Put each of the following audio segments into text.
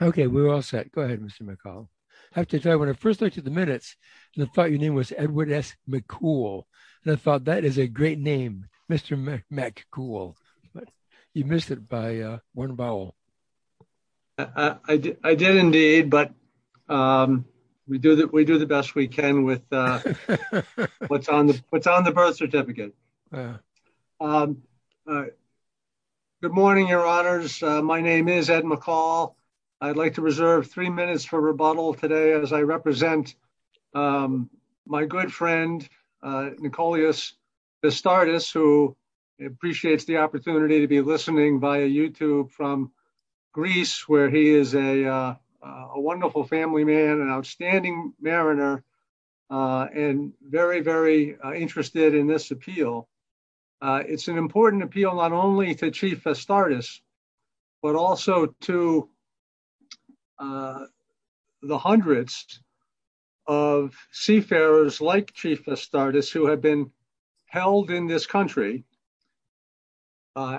Okay, we're all set. Go ahead, Mr. McCall. I have to tell you, when I first looked at the minutes, I thought your name was Edward S. McCool. I thought that is a great name, Mr. McCool. You missed it by one vowel. I did indeed, but we do the best we can with what's on the birth certificate. Good morning, your honors. My name is Ed McCall. I'd like to reserve three minutes for rebuttal today as I represent my good friend, Nicoleus Vastardis, who appreciates the opportunity to be listening via YouTube from Greece, where he is a wonderful family man, an outstanding mariner, and very, very interested in this appeal. It's an important appeal not only to Chief Vastardis, but also to the hundreds of seafarers like Chief Vastardis who have been held in this country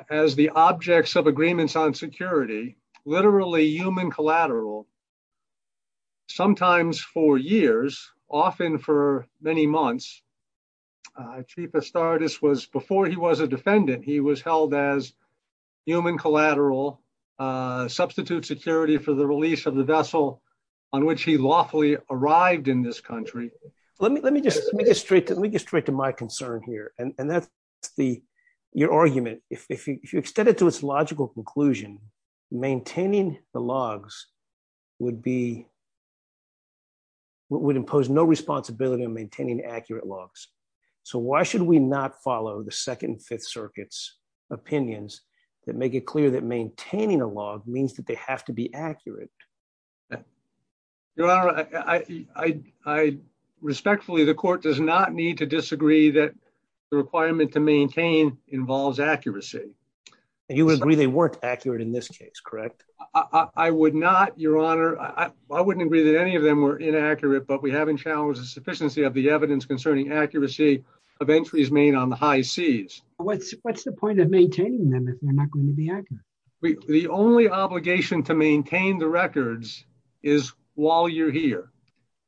as the objects of agreements on security, literally human collateral, sometimes for years, often for many months. Chief Vastardis, before he was a defendant, he was held as human collateral, substitute security for the release of the vessel on which he lawfully arrived in this country. Let me get straight to my concern here, and that's your argument. If you extend it to its logical conclusion, maintaining the logs would be, would impose no responsibility on maintaining accurate logs. So why should we not follow the Second and Fifth Circuit's opinions that make it clear that maintaining a log means that they have to be accurate? Your honor, I respectfully, the court does not need to disagree that requirement to maintain involves accuracy. He was agreeing they weren't accurate in this case, correct? I would not, your honor. I wouldn't agree that any of them were inaccurate, but we haven't challenged the sufficiency of the evidence concerning accuracy of entries made on the high seas. What's the point of maintaining them if they're not going to be accurate? The only obligation to maintain the records is while you're here.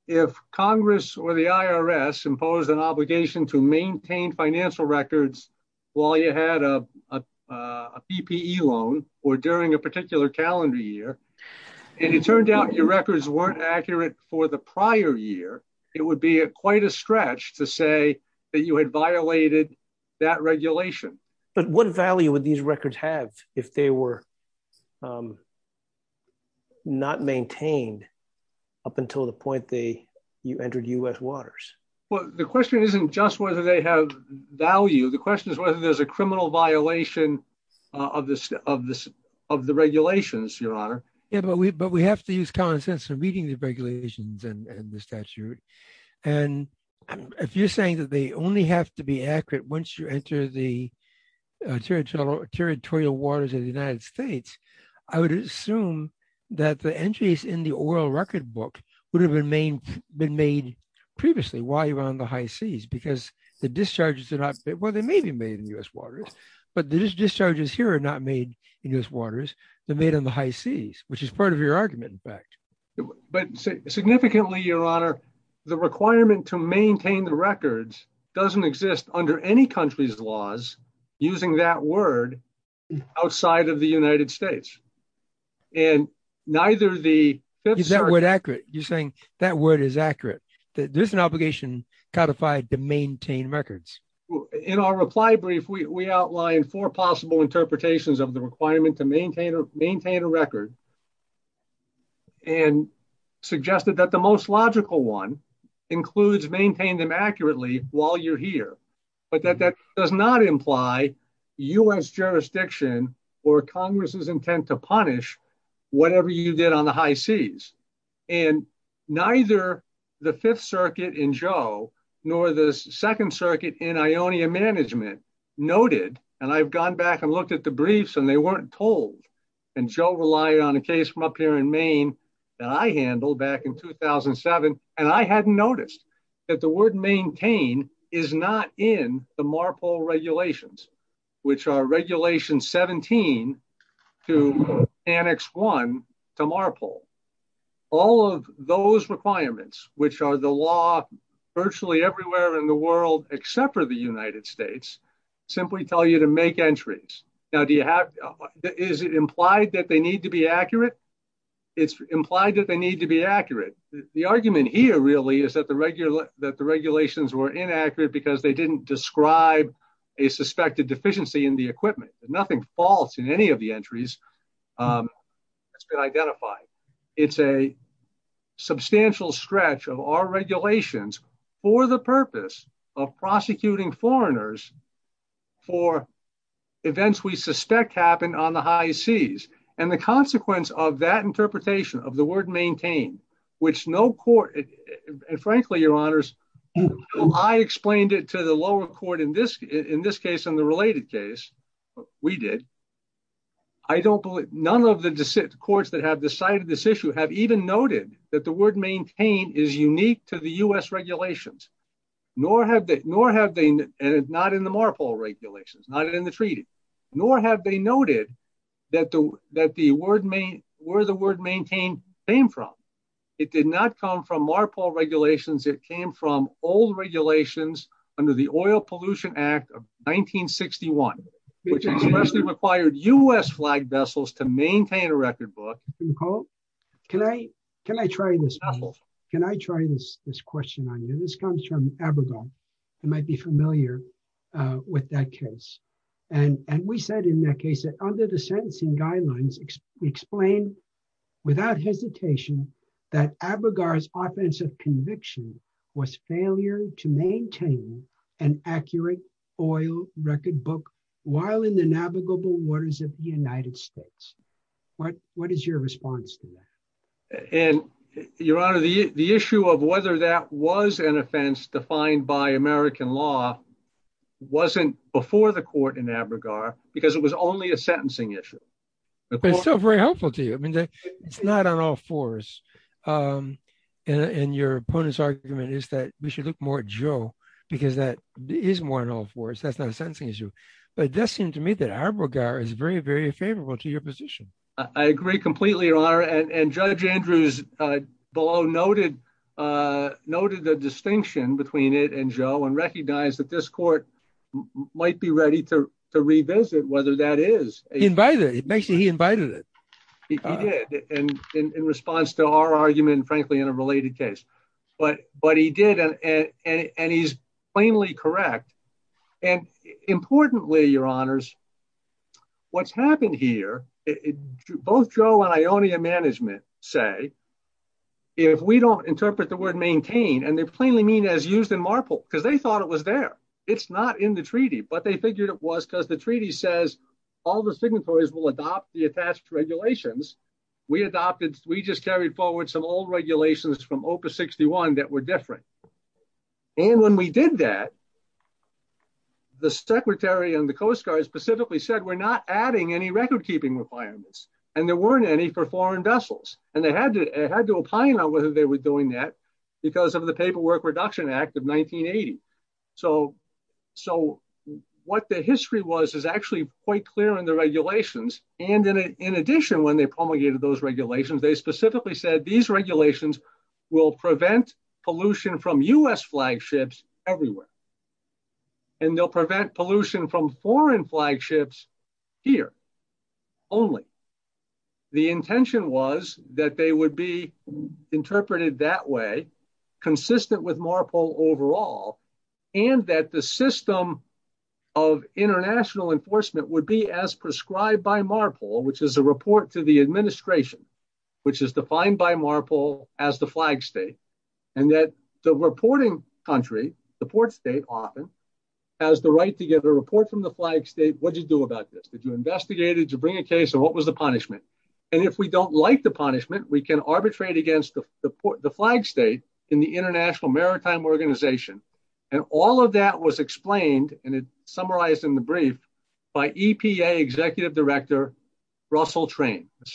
If Congress or maintained financial records while you had a PPE loan or during a particular calendar year, and it turned out your records weren't accurate for the prior year, it would be a quite a stretch to say that you had violated that regulation. But what value would these records have if they were not maintained up until the point they entered U.S. waters? Well, the question isn't just whether they have value. The question is whether there's a criminal violation of the regulations, your honor. Yeah, but we have to use common sense for meeting the regulations and the statute. And if you're saying that they only have to be accurate once you enter the territorial waters of the United States, I would assume that the entries in the oral record book would have been made previously while you were on the high seas because the discharges are not, well, they may be made in U.S. waters, but these discharges here are not made in U.S. waters. They're made on the high seas, which is part of your argument, in fact. But significantly, your honor, the requirement to maintain the records doesn't exist under any country's laws using that word outside of the United States. And neither the- Is that word accurate? You're saying that word is accurate. There's an obligation codified to maintain records. In our reply brief, we outlined four possible interpretations of the requirement to maintain a record and suggested that the most logical one includes maintain them accurately while you're there. But that does not imply U.S. jurisdiction or Congress's intent to punish whatever you did on the high seas. And neither the Fifth Circuit in Joe nor the Second Circuit in Ionia management noted, and I've gone back and looked at the briefs and they weren't told, and Joe relied on a case from up here in Maine that I handled back in 2007, and I hadn't noticed that the word maintain is not in the MARPOL regulations, which are regulation 17 to annex 1 to MARPOL. All of those requirements, which are the law virtually everywhere in the world except for the United States, simply tell you to make entries. Now, do you have- Is it implied that they need to be accurate? It's implied that they need to be accurate. The argument here really is that the regulations were inaccurate because they didn't describe a suspected deficiency in the equipment. Nothing false in any of the entries has been identified. It's a substantial stretch of our regulations for the purpose of prosecuting foreigners for events we suspect happened on the high seas. And the consequence of that interpretation of the word maintain, which no court- And frankly, your honors, I explained it to the lower court in this case and the related case. We did. I don't believe- None of the courts that have decided this issue have even noted that the word maintain is unique to the US regulations, nor have they- And it's not in the MARPOL regulations, not in the treaty, nor have they noted that the word main- Where the it did not come from MARPOL regulations. It came from old regulations under the Oil Pollution Act of 1961, which expressly required US flag vessels to maintain a record book. Nicole, can I try this? Can I try this question on you? This comes from Abrigal. You might be familiar with that case. And we said in that case that under the sentencing guidelines, we explained without hesitation that Abrigal's offensive conviction was failure to maintain an accurate oil record book while in the navigable waters of the United States. What is your response to that? And your honor, the issue of whether that was an offense defined by American law wasn't before the court in Abrigal because it was only a sentencing issue. It's still very helpful to you. I mean, it's not an all force. And your opponent's argument is that we should look more at Joe because that is more an all force. That's not a sentencing issue. But it does seem to me that Abrigal is very, very favorable to your position. I agree completely, your honor. And Judge Andrews below noted the distinction between it and Joe and recognized that this court might be ready to revisit whether that is- It makes it he invited it. He did in response to our argument, frankly, in a related case. But he did and he's plainly correct. And importantly, your honors, what's happened here, both Joe and Ionia management say, if we don't interpret the word maintain and they're plainly mean as used in Marple because they thought it was there. It's not in the treaty, but they figured it was because the treaty says all the signatories will adopt the attached regulations. We adopted, we just carried forward some old regulations from OPA 61 that were different. And when we did that, the secretary and the Coast Guard specifically said, we're not adding any record keeping requirements. And there weren't any for foreign vessels. And they had to opine on whether they were doing that because of the Paperwork Reduction Act of 1980. So what the history was is actually quite clear in the regulations. And in addition, when they promulgated those regulations, they specifically said these regulations will prevent pollution from US flagships everywhere. And they'll prevent pollution from foreign flagships here only. The intention was that they would be interpreted that way, consistent with Marple overall, and that the system of international enforcement would be as prescribed by Marple, which is a report to the administration, which is defined by Marple as the flag state. And that the reporting country, the port state often, has the right to give a report from the flag state. What'd you do about this? Did you investigate it? Did you bring a case? Or what was the punishment? And if we don't like the punishment, we can arbitrate against the flag state in the International Maritime Organization. And all of that was explained, and it summarized in the brief, by EPA Executive Director Russell Train, the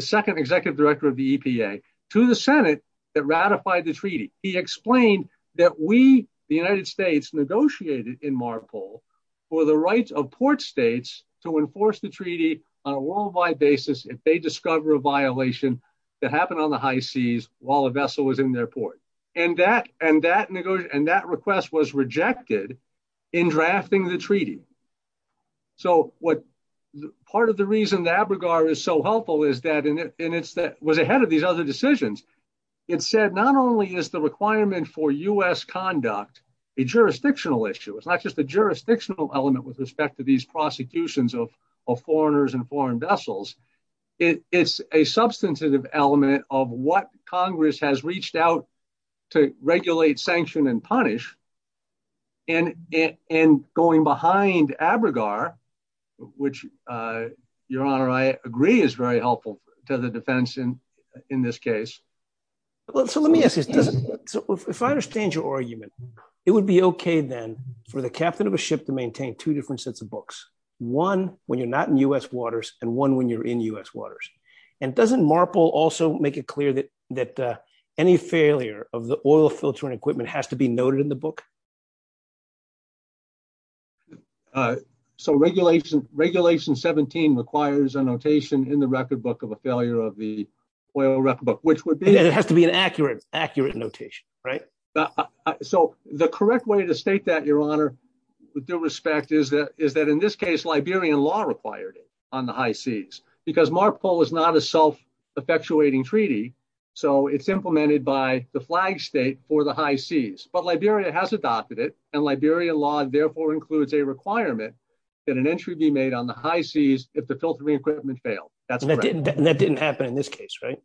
second Executive Director of the EPA, to the Senate that ratified the treaty. He explained that we, the United States, negotiated in Marple for the rights of port states to enforce the treaty on a worldwide basis if they discover a violation that happened on the high seas while a vessel was in their port. And that request was rejected in drafting the treaty. So part of the reason the ABRGAR is so helpful is that, and it was ahead of these other decisions, it said not only is the requirement for U.S. conduct a jurisdictional issue, it's not just a jurisdictional element with respect to these prosecutions of foreigners and foreign vessels. It's a substantive element of what Congress has reached out to regulate, sanction, and punish. And going behind ABRGAR, which, Your Honor, I agree is very helpful to the defense in this case. So let me ask you, if I understand your argument, it would be okay then for the captain of a ship to maintain two different sets of books, one when you're not in U.S. waters and one when you're in U.S. waters. And doesn't Marple also make it clear that any failure of the oil filter and equipment has to be noted in the book? So regulation 17 requires a notation in the record book of a failure of the oil record book, which would be? It has to be an accurate notation, right? So the correct way to state that, Your Honor, with due respect is that in this case, Liberian law required it on the high seas. Because Marple is not a self-effectuating treaty, so it's implemented by the flag state for the high seas. But Liberia has adopted it, and Liberian law therefore includes a requirement that an entry be made on the high seas if the in this case, right?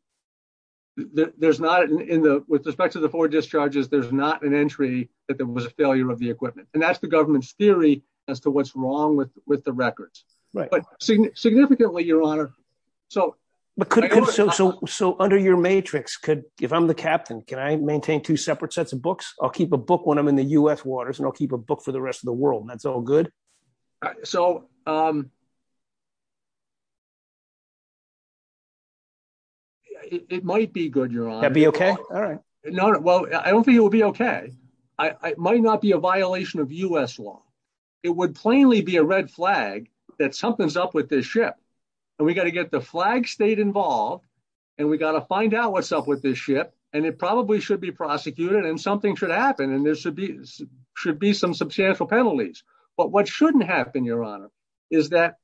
There's not, with respect to the four discharges, there's not an entry that there was a failure of the equipment. And that's the government's theory as to what's wrong with the records. But significantly, Your Honor. So under your matrix, if I'm the captain, can I maintain two separate sets of books? I'll keep a book when I'm in the U.S. waters, and I'll keep a book for the rest of the world, and that's all good? So it might be good, Your Honor. That'd be okay? All right. No, no. Well, I don't think it would be okay. It might not be a violation of U.S. law. It would plainly be a red flag that something's up with this ship. And we got to get the flag state involved, and we got to find out what's up with this ship, and it probably should be prosecuted, and something should happen, and there should be some substantial penalties. But what shouldn't happen, Your Honor, is that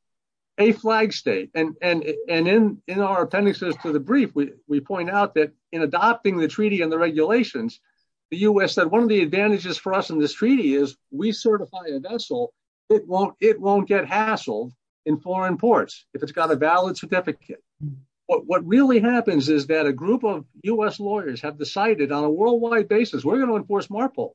a flag state, and in our appendices to the brief, we point out that in adopting the treaty and the regulations, the U.S. said, one of the advantages for us in this treaty is we certify a vessel, it won't get hassled in foreign ports if it's got a valid certificate. What really happens is that a group of U.S. lawyers have decided on a worldwide basis, we're going to enforce MARPOL.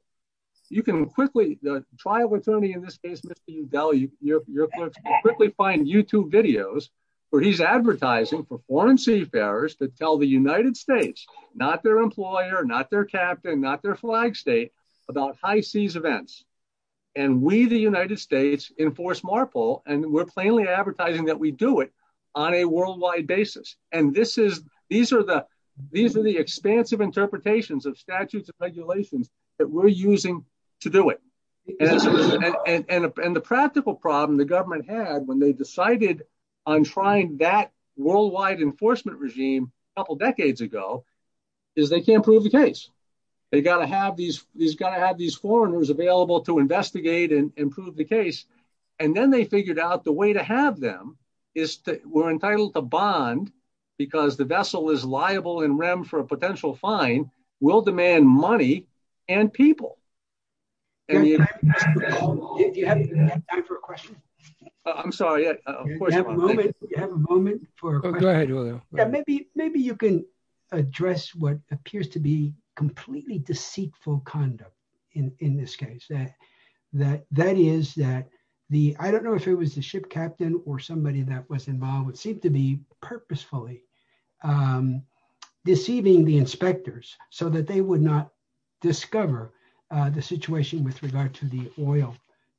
You can quickly, the trial attorney in this case, Mr. Udall, you can quickly find YouTube videos where he's advertising for foreign seafarers to tell the United States, not their employer, not their captain, not their flag state, about high seas events. And we, the United States, enforce MARPOL, and we're plainly advertising that we do it on a worldwide basis. And these are the expansive interpretations of statutes and regulations that we're using to do it. And the practical problem the government had when they decided on trying that worldwide enforcement regime a couple decades ago, is they can't prove the case. They've got to have these foreigners available to investigate and prove the case. And then they figured out the way to have them is that we're entitled to bond because the vessel is liable in REM for a potential fine, will demand money and people. Do you have time for a question? I'm sorry. Do you have a moment for a question? Go ahead, William. Maybe you can address what appears to be completely deceitful conduct in this case. That is that the, I don't know if it was the ship captain or somebody that was involved, it seemed to be purposefully deceiving the inspectors so that they would not discover the situation with regard to the oil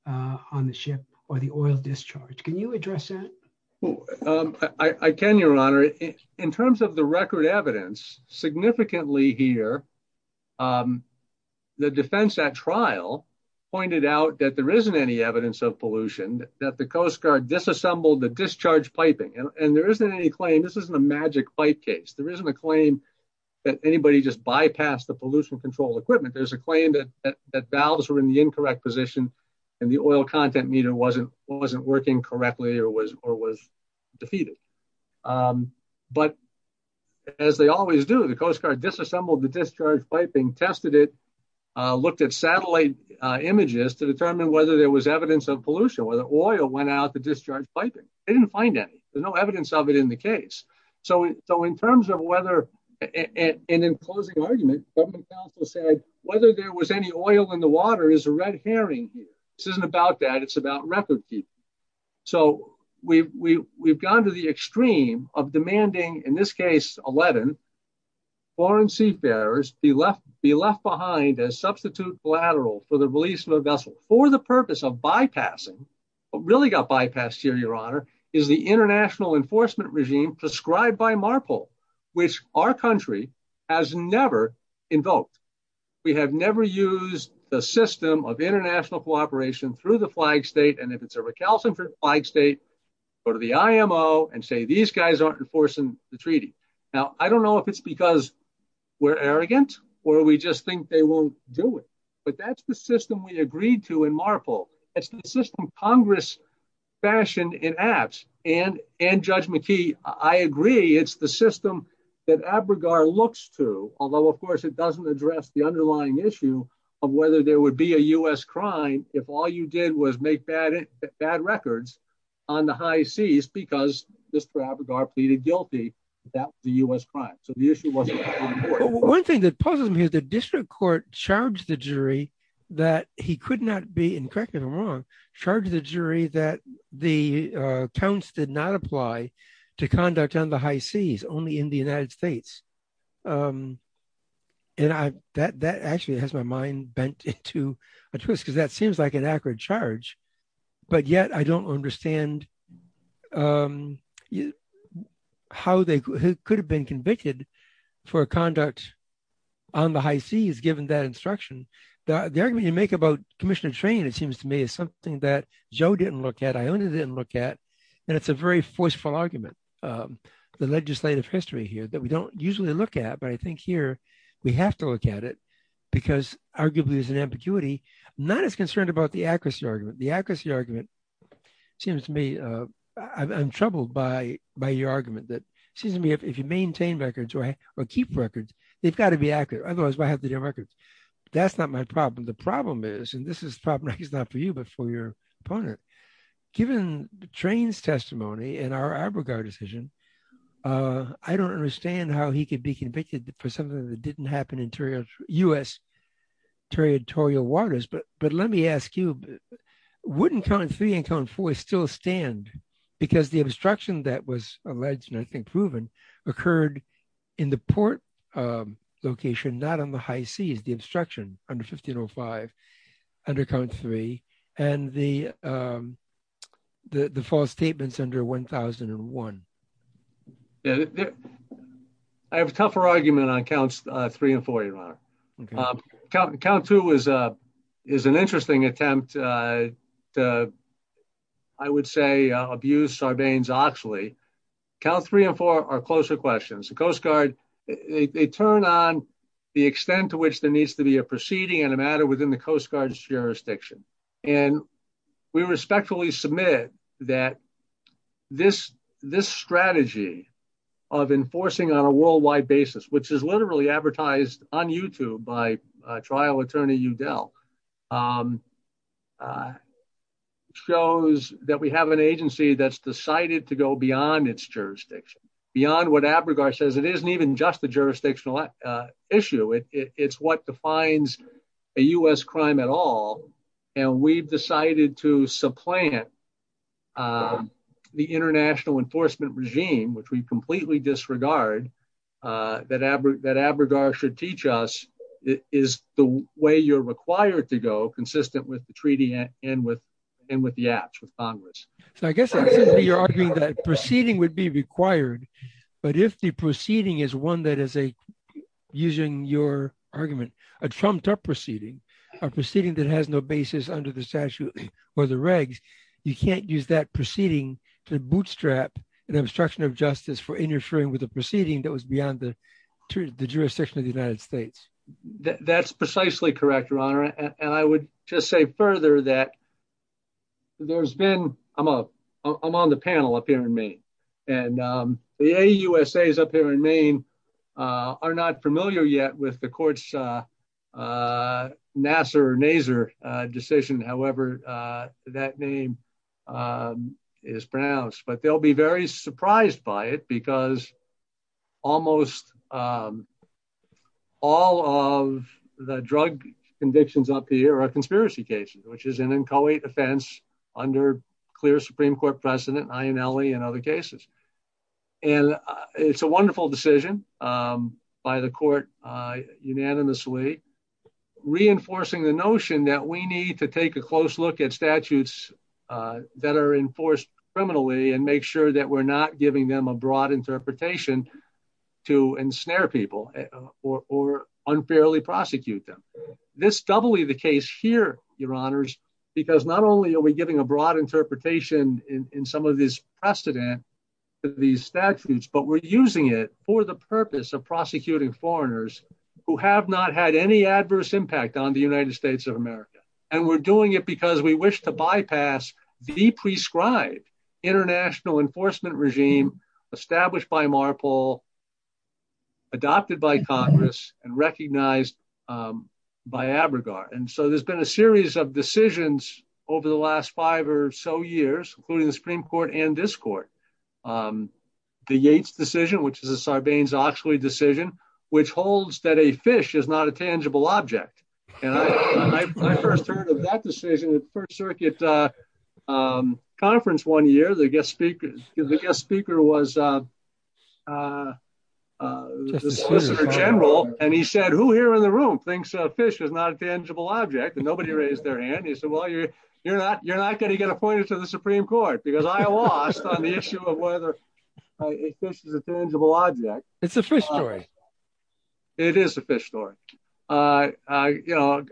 on the ship or the oil discharge. Can you address that? I can, Your Honor. In terms of the record evidence, significantly here, the defense at trial pointed out that there isn't any evidence of pollution, that the Coast Guard disassembled the discharge piping and there isn't any claim, this isn't a magic pipe case. There isn't a claim that anybody just bypassed the pollution control equipment. There's a claim that valves were in the incorrect position and the oil content meter wasn't working correctly or was defeated. But as they always do, the Coast Guard disassembled the discharge piping, tested it, looked at satellite images to determine whether there was evidence of pollution, whether oil went out the discharge piping. They didn't find any. There's no evidence of it in the case. So in terms of whether, and in closing argument, government counsel said, whether there was any oil in the water is a red herring here. This isn't about that, it's about record keeping. So we've gone to the extreme of demanding, in this case, 11 foreign seafarers be left behind as substitute collateral for the release of a vessel for the bypassing. What really got bypassed here, your honor, is the international enforcement regime prescribed by MARPOL, which our country has never invoked. We have never used the system of international cooperation through the flag state. And if it's a recalcitrant flag state, go to the IMO and say, these guys aren't enforcing the treaty. Now, I don't know if it's because we're arrogant or we just think they won't do it, but that's the system we agreed to in MARPOL. It's the system Congress fashioned in Abts and Judge McKee. I agree it's the system that Abregar looks to, although of course it doesn't address the underlying issue of whether there would be a U.S. crime if all you did was make bad records on the high seas because Mr. Abregar pleaded guilty that that was a U.S. crime. So the issue wasn't- One thing that puzzles me is the district court charged the jury that he could not be, and correct me if I'm wrong, charged the jury that the counts did not apply to conduct on the high seas, only in the United States. And that actually has my mind bent into a twist because that seems like an accurate charge, but yet I don't understand how they could have been convicted for conduct on the high seas given that instruction. The argument you make about commission of training, it seems to me, is something that Joe didn't look at, Iona didn't look at, and it's a very forceful argument. The legislative history here that we don't usually look at, but I think here we have to look at it because arguably there's an ambiguity, not as concerned about the accuracy argument. The accuracy argument seems to me, I'm troubled by your argument that, excuse me, if you maintain records or keep records, they've got to be accurate. Otherwise, why have to do records? That's not my problem. The problem is, and this is probably not for you, but for your opponent, given the train's testimony and our Arbogast decision, I don't understand how he could be convicted for something that didn't happen in U.S. territorial waters. But let me ask you, wouldn't count three and count four still stand? Because the instruction that was alleged, and proven, occurred in the port location, not on the high seas, the obstruction under 1505, under count three, and the false statements under 1001. I have a tougher argument on counts three and four, your honor. Count two is an interesting attempt to, I would say, abuse Sarbanes-Oxley. Count three and four are closer questions. They turn on the extent to which there needs to be a proceeding in a matter within the Coast Guard's jurisdiction. We respectfully submit that this strategy of enforcing on a worldwide basis, which is literally advertised on YouTube by trial attorney Udell, shows that we have an agency that's decided to go beyond its jurisdiction, beyond what Abragar says. It isn't even just a jurisdictional issue. It's what defines a U.S. crime at all. And we've decided to supplant the international enforcement regime, which we completely disregard, that Abragar should teach us is the way you're required to go consistent with the treaty and with the acts of Congress. So I guess you're arguing that proceeding would be required, but if the proceeding is one that is a, using your argument, a trumped up proceeding, a proceeding that has no basis under the statute or the regs, you can't use that proceeding to bootstrap an obstruction of justice for interfering with a proceeding that was beyond the jurisdiction of the United States. That's precisely correct, Your Honor. And I would just say further that there's been, I'm on the panel up here in Maine, and the AUSAs up here in is pronounced, but they'll be very surprised by it because almost all of the drug convictions up here are conspiracy cases, which is an inchoate offense under clear Supreme Court precedent, INLE and other cases. And it's a wonderful decision by the court unanimously, reinforcing the notion that we need to take a close look at statutes that are enforced criminally and make sure that we're not giving them a broad interpretation to ensnare people or unfairly prosecute them. This doubly the case here, Your Honors, because not only are we giving a broad interpretation in some of this precedent to these statutes, but we're using it for the purpose of prosecuting foreigners who have not had any de-prescribed international enforcement regime established by Marpole, adopted by Congress, and recognized by ABRGAR. And so there's been a series of decisions over the last five or so years, including the Supreme Court and this court. The Yates decision, which is a Sarbanes-Oxley decision, which holds that a fish is not a tangible object. And I first heard of that decision, the First Circuit Conference one year, the guest speaker was the solicitor general, and he said, who here in the room thinks a fish is not a tangible object? And nobody raised their hand. He said, well, you're not going to get appointed to the Supreme Court because I lost on the issue of whether a fish is a tangible object. It's a fish story. It is a fish story. You know,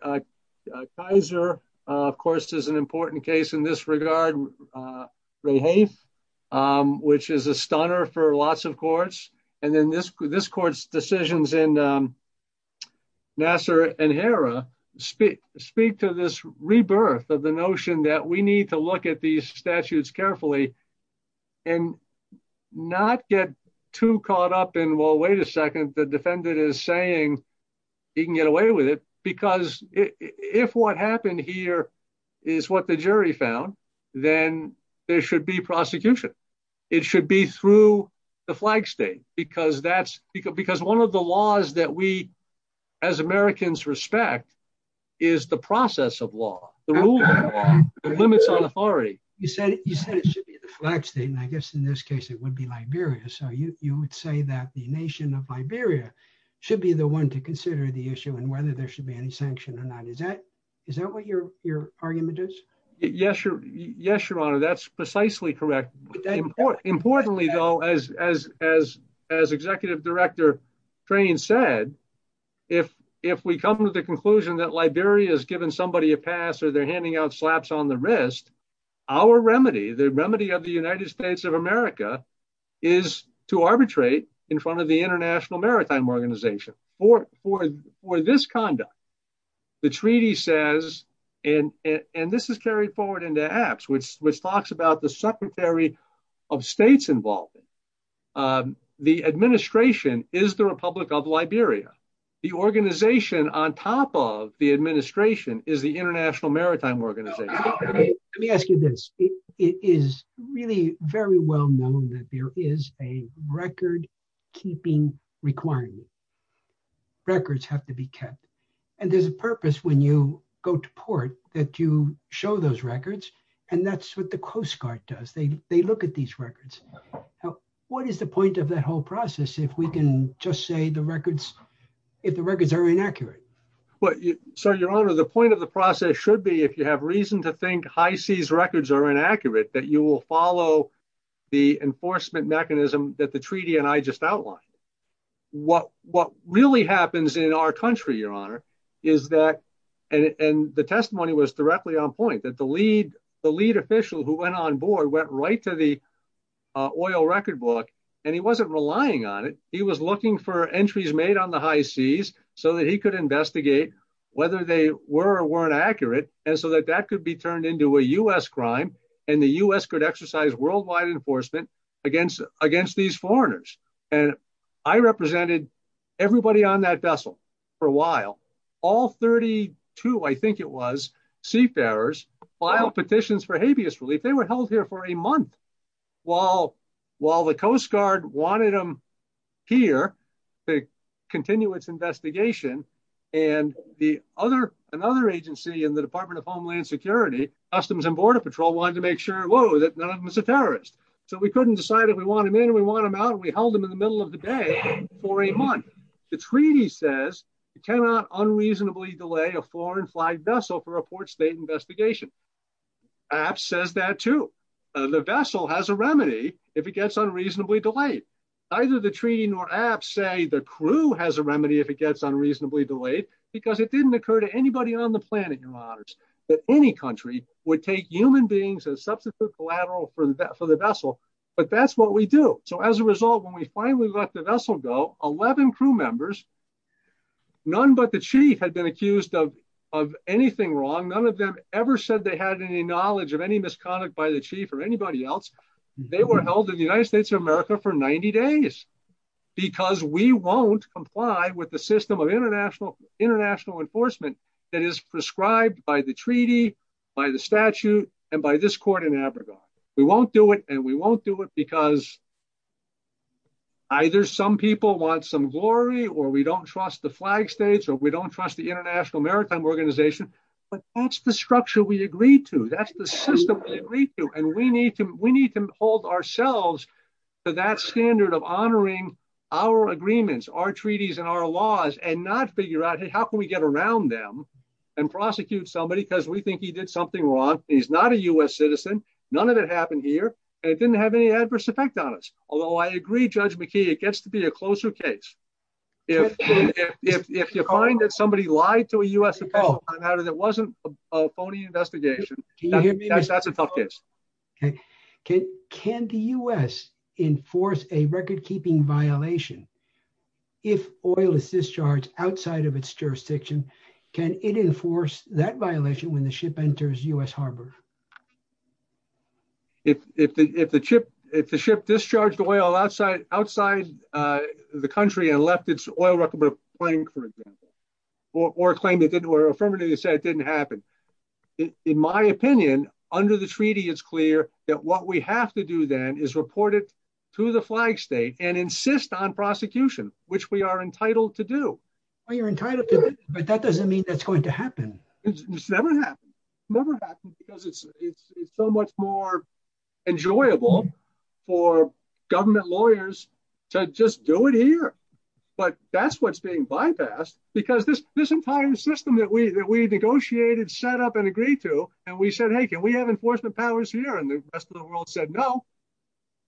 Kaiser, of course, is an important case in this regard. Which is a stunner for lots of courts. And then this court's decisions in Nassar and Hera speak to this rebirth of the notion that we need to look at these statutes carefully and not get too caught up in, well, wait a second, the defendant is saying he can get away with it because if what happened here is what the jury found, then there should be prosecution. It should be through the flag state because one of the laws that we, as Americans, respect is the process of law, the rule of law that limits on authority. You said it should be the flag state, and I guess in this case, it would be Liberia. So you would say that the nation of Liberia should be the one to consider the issue and whether there should be any sanction or not. Is that what your argument is? Yes, Your Honor, that's precisely correct. Importantly, though, as Executive Director Crane said, if we come to the conclusion that Liberia has given somebody a pass or they're handing out slaps on the wrist, our remedy, the remedy of the United States of America is to arbitrate in front of the International Maritime Organization. For this conduct, the treaty says, and this is carried forward in the Acts, which talks about the secretary of states involved, the administration is the Republic of Liberia. The organization on top of the administration is the International Maritime Organization. Let me ask you this. It is really very well known that there is a record-keeping requirement. Records have to be kept, and there's a purpose when you go to port that you show those records, and that's what the Coast Guard does. They look at these records. What is the point of the whole process if we can just say the records, if the records are inaccurate? Well, sir, Your Honor, the point of the process should be if you have reason to think high seas records are inaccurate, that you will follow the enforcement mechanism that the treaty and I just outlined. What really happens in our country, Your Honor, is that, and the testimony was directly on point, that the lead official who went on board went right to the oil record book, and he wasn't relying on it. He was looking for entries made on the high seas so that he could investigate whether they were or weren't accurate, and so that that could be turned into a U.S. crime, and the U.S. could exercise worldwide enforcement against these foreigners, and I represented everybody on that vessel for a while. All 32, I think it was, seafarers filed petitions for habeas relief. They were held here for a month while the Coast Guard wanted them here to continue its investigation, and the other, another agency in the Department of Homeland Security, Customs and Border Patrol, wanted to make sure, whoa, that none of them were seafarers, so we couldn't decide if we wanted them in, we wanted them out, and we held them in the middle of the day for a month. The treaty says you cannot unreasonably delay a foreign flagged vessel for a port state investigation. APPS says that too. The vessel has a remedy if it gets unreasonably delayed. Neither the treaty nor APPS say the crew has a remedy if it gets unreasonably delayed, because it didn't occur to anybody on the planet, in other words, that any country would take human beings as substances collateral for the vessel, but that's what we do, so as a result, when we finally let the vessel go, 11 crew members, none but the chief had been accused of anything wrong, none of them ever said they had any knowledge of any misconduct by the chief or anybody else, they were held in the United States of America for 90 days, because we won't comply with the system of international, international enforcement that is prescribed by the treaty, by the statute, and by this court in Abradon. We won't do it, and we won't do it because either some people want some glory, or we don't trust the flag states, or we don't trust the American organization, but that's the structure we agreed to, that's the system we agreed to, and we need to hold ourselves to that standard of honoring our agreements, our treaties, and our laws, and not figure out, hey, how can we get around them and prosecute somebody, because we think he did something wrong, he's not a U.S. citizen, none of it happened here, and it didn't have any adverse effect on us, although I agree, Judge McKee, it gets to be a closer case. If you find that somebody lied to a U.S. employee, that it wasn't a phony investigation, that's a tough case. Okay, can the U.S. enforce a record-keeping violation if oil is discharged outside of its jurisdiction, can it enforce that violation when the ship the country and left its oil record claim, for example, or claim that didn't, or affirmatively say it didn't happen? In my opinion, under the treaty, it's clear that what we have to do then is report it to the flag state and insist on prosecution, which we are entitled to do. Well, you're entitled to it, but that doesn't mean that's going to happen. It's never happened, never happened, because it's so much more enjoyable for government lawyers to just do it here. But that's what's being bypassed, because this entire system that we negotiated, set up, and agreed to, and we said, hey, can we have enforcement powers here? And the rest of the world said, no,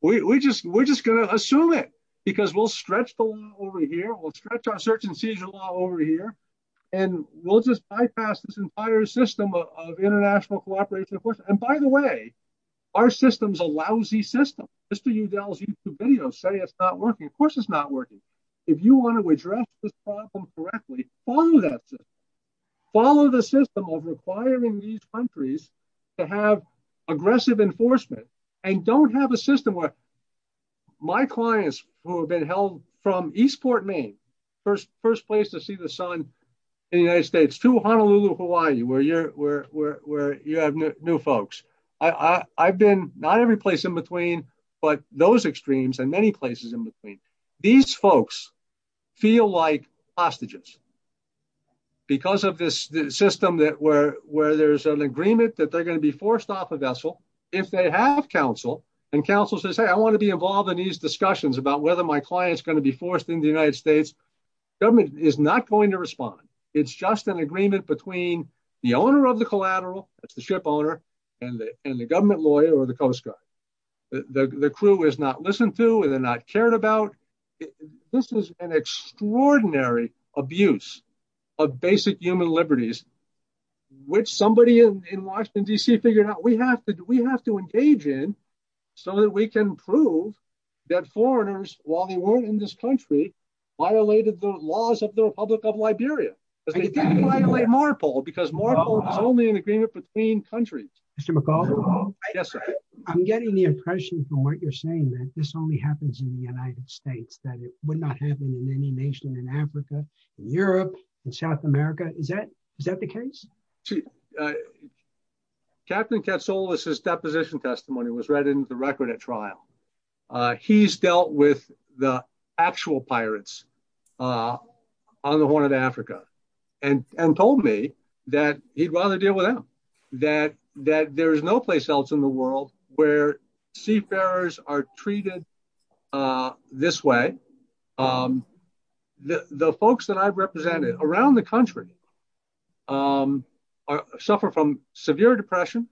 we're just going to assume it, because we'll stretch the law over here, we'll stretch our circumcision law over here, and we'll just bypass this entire system of international cooperation. And by the way, our system's a lousy system. Mr. Udall's YouTube say it's not working. Of course it's not working. If you want to address this problem correctly, follow that system. Follow the system of requiring these countries to have aggressive enforcement, and don't have a system where my clients who have been held from Eastport, Maine, first place to see the sun in the United States, to Honolulu, Hawaii, where you have new folks. I've been not every place in between, but those extremes and many places in between. These folks feel like hostages. Because of this system where there's an agreement that they're going to be forced off a vessel, if they have counsel, and counsel says, hey, I want to be involved in these discussions about whether my client's going to be forced into the United States, government is not going to respond. It's just an agreement between the owner of the collateral, that's the ship owner, and the government lawyer or the Coast Guard. The crew is not listened to, and they're not cared about. This is an extraordinary abuse of basic human liberties, which somebody in Washington, D.C. figured out we have to engage in so that we can prove that foreigners, while they weren't in this country, violated the laws of the Republic of Liberia. They didn't violate MARPOL because MARPOL is only an agreement between countries. Mr. McAuliffe, I'm getting the impression from what you're saying that this only happens in the United States, that it would not happen in any nation in Africa, in Europe, in South America. Is that the case? Captain Katsoulis' deposition testimony was read into the record at trial. He's dealt with the actual pirates on the Horn of Africa and told me that he'd rather deal with them, that there is no place else in the world where seafarers are treated this way. The folks that I've represented around the country suffer from severe depression,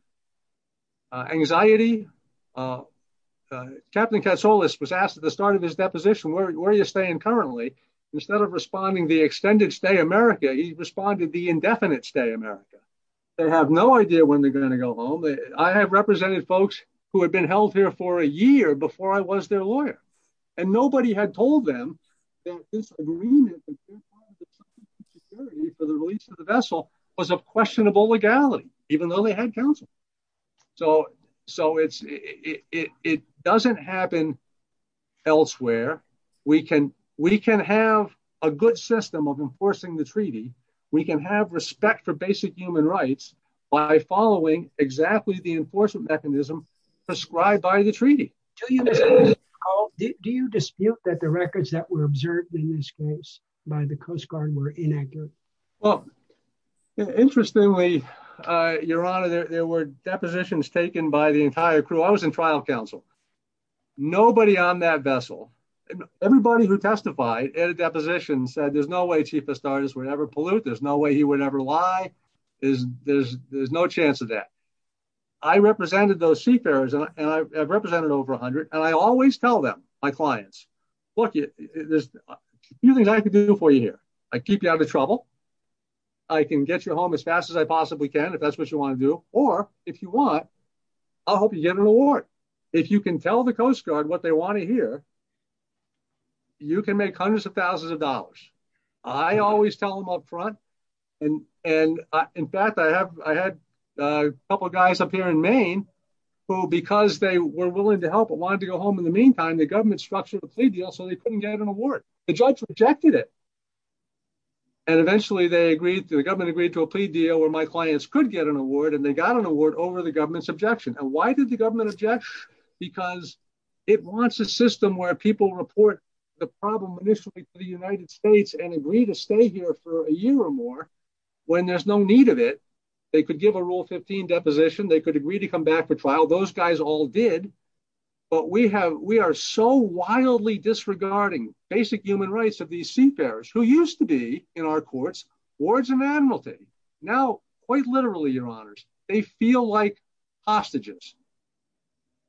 anxiety. Captain Katsoulis was asked at the start of his deposition, where are you staying currently? Instead of responding, the extended stay in America, he responded, the indefinite stay in America. They have no idea when they're going to go home. I have represented folks who had held here for a year before I was their lawyer, and nobody had told them that this agreement for the release of the vessel was of questionable legality, even though they had counsel. It doesn't happen elsewhere. We can have a good system of enforcing the treaty. We can have respect for basic human rights by following exactly the enforcement mechanism prescribed by the treaty. Do you dispute that the records that were observed in this case by the Coast Guard were inaccurate? Interestingly, your honor, there were depositions taken by the entire crew. I was in trial counsel. Nobody on that vessel, everybody who testified at a deposition said there's no way Chief Pastraris would ever pollute, there's no way he would ever lie. There's no chance of that. I represented those seafarers, and I've represented over 100, and I always tell them, my clients, look, there's a few things I can do for you here. I keep you out of trouble. I can get you home as fast as I possibly can, if that's what you want to do, or if you want, I'll help you get an award. If you can tell the Coast Guard what they want to hear, you can make hundreds of thousands of dollars. I always tell them up front, and in fact, I had a couple of guys up here in Maine who, because they were willing to help and wanted to go home in the meantime, the government structured a plea deal so they couldn't get an award. The judge rejected it, and eventually the government agreed to a plea deal where my clients could get an award, and they got an award over the government's objection. And why did the government object? Because it wants a system where people report the problem initially to the United States and agree to stay here for a year or more when there's no need of it. They could give a Rule 15 deposition. They could agree to come back to trial. Those guys all did, but we are so wildly disregarding basic human rights of these seafarers who used to be, in our courts, wards and admiralty. Now, quite literally, your honors, they feel like hostages.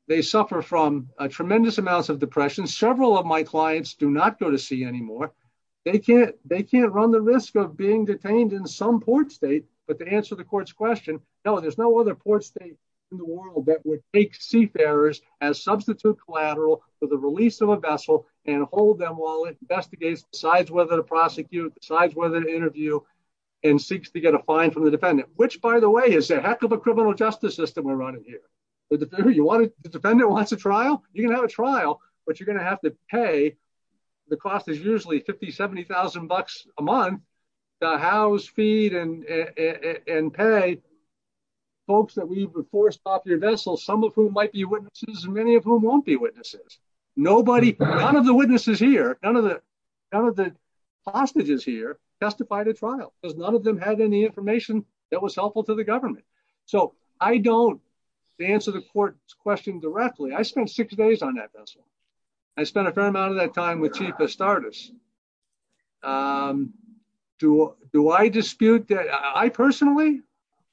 They suffer from tremendous amounts of depression. Several of my clients do not go to sea anymore. They can't run the risk of being detained in some port state, but to answer the court's question, no, there's no other port state in the world that would take seafarers as substitute collateral for the release of a vessel and hold them while it investigates, decides whether to prosecute, decides whether to interview, and seeks to get a fine from the defendant, which, by the way, is a heck of a criminal justice system we're running here. The defendant wants a trial? You can have a trial, but you're going to have to pay. The cost is usually 50,000, 70,000 bucks a month to house, feed, and pay folks that leave the forced popular vessels, some of whom might be witnesses and many of whom won't be witnesses. Nobody, none of the witnesses here, none of the hostages here testified at trial because none of them had any information that was helpful to the government. So, I don't, to answer the court's question directly, I spent six days on that vessel. I spent a fair amount of that time with Chief Astartes. Do I dispute that? I personally,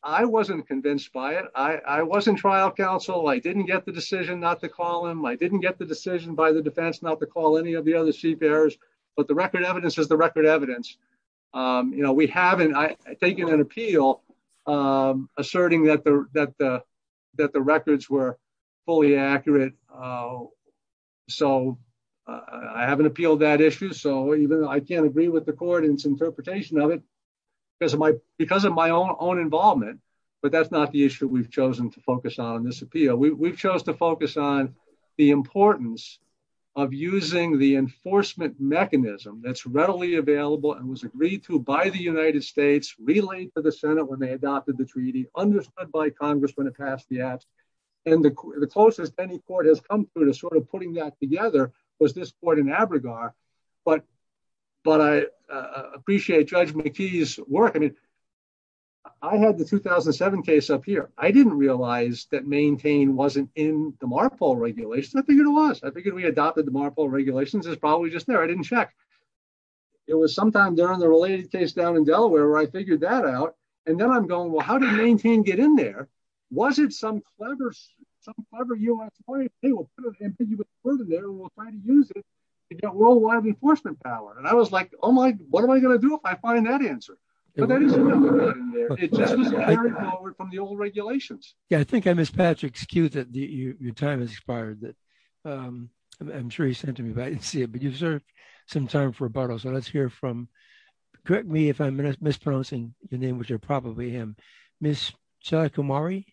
I wasn't convinced by it. I wasn't a trial counsel. I didn't get the decision not to call him. I didn't get the decision by the defense not to call any of the other seafarers, but the record evidence is the record evidence. You know, we haven't, I think in an appeal, asserting that the records were fully accurate. So, I haven't appealed that issue. So, even though I can't agree with the court in its interpretation of it, because of my own involvement, but that's not the issue we've chosen to focus on in this appeal. We've chosen to focus on the importance of using the enforcement mechanism that's readily available and was agreed to by the United States, relayed to the Senate when they adopted the treaty, understood by Congress when it passed the act, and the closest any court has come through to sort of putting that together was this court in Abrigar, but I appreciate Judge McKee's work. I mean, I had the 2007 case up here. I didn't realize that Maintain wasn't in the MARFA regulations. I figured it was. I figured we adopted the MARFA regulations. It's probably just there. I didn't check. It was sometime during the related case down in Delaware where I figured that out, and then I'm going, well, how did Maintain get in there? Was it some clever U.S. place? Hey, we'll put an ambiguous word in there, and we'll try to use it to get enforcement power, and I was like, oh my, what am I going to do if I find that answer? It doesn't carry forward from the old regulations. Yeah, I think I missed Patrick's cue that your time has expired. I'm sure he sent to me, but I didn't see it, but you deserve some time for rebuttal, so let's hear from, correct me if I'm mispronouncing the name, which is probably him, Ms. Shaila Kumari.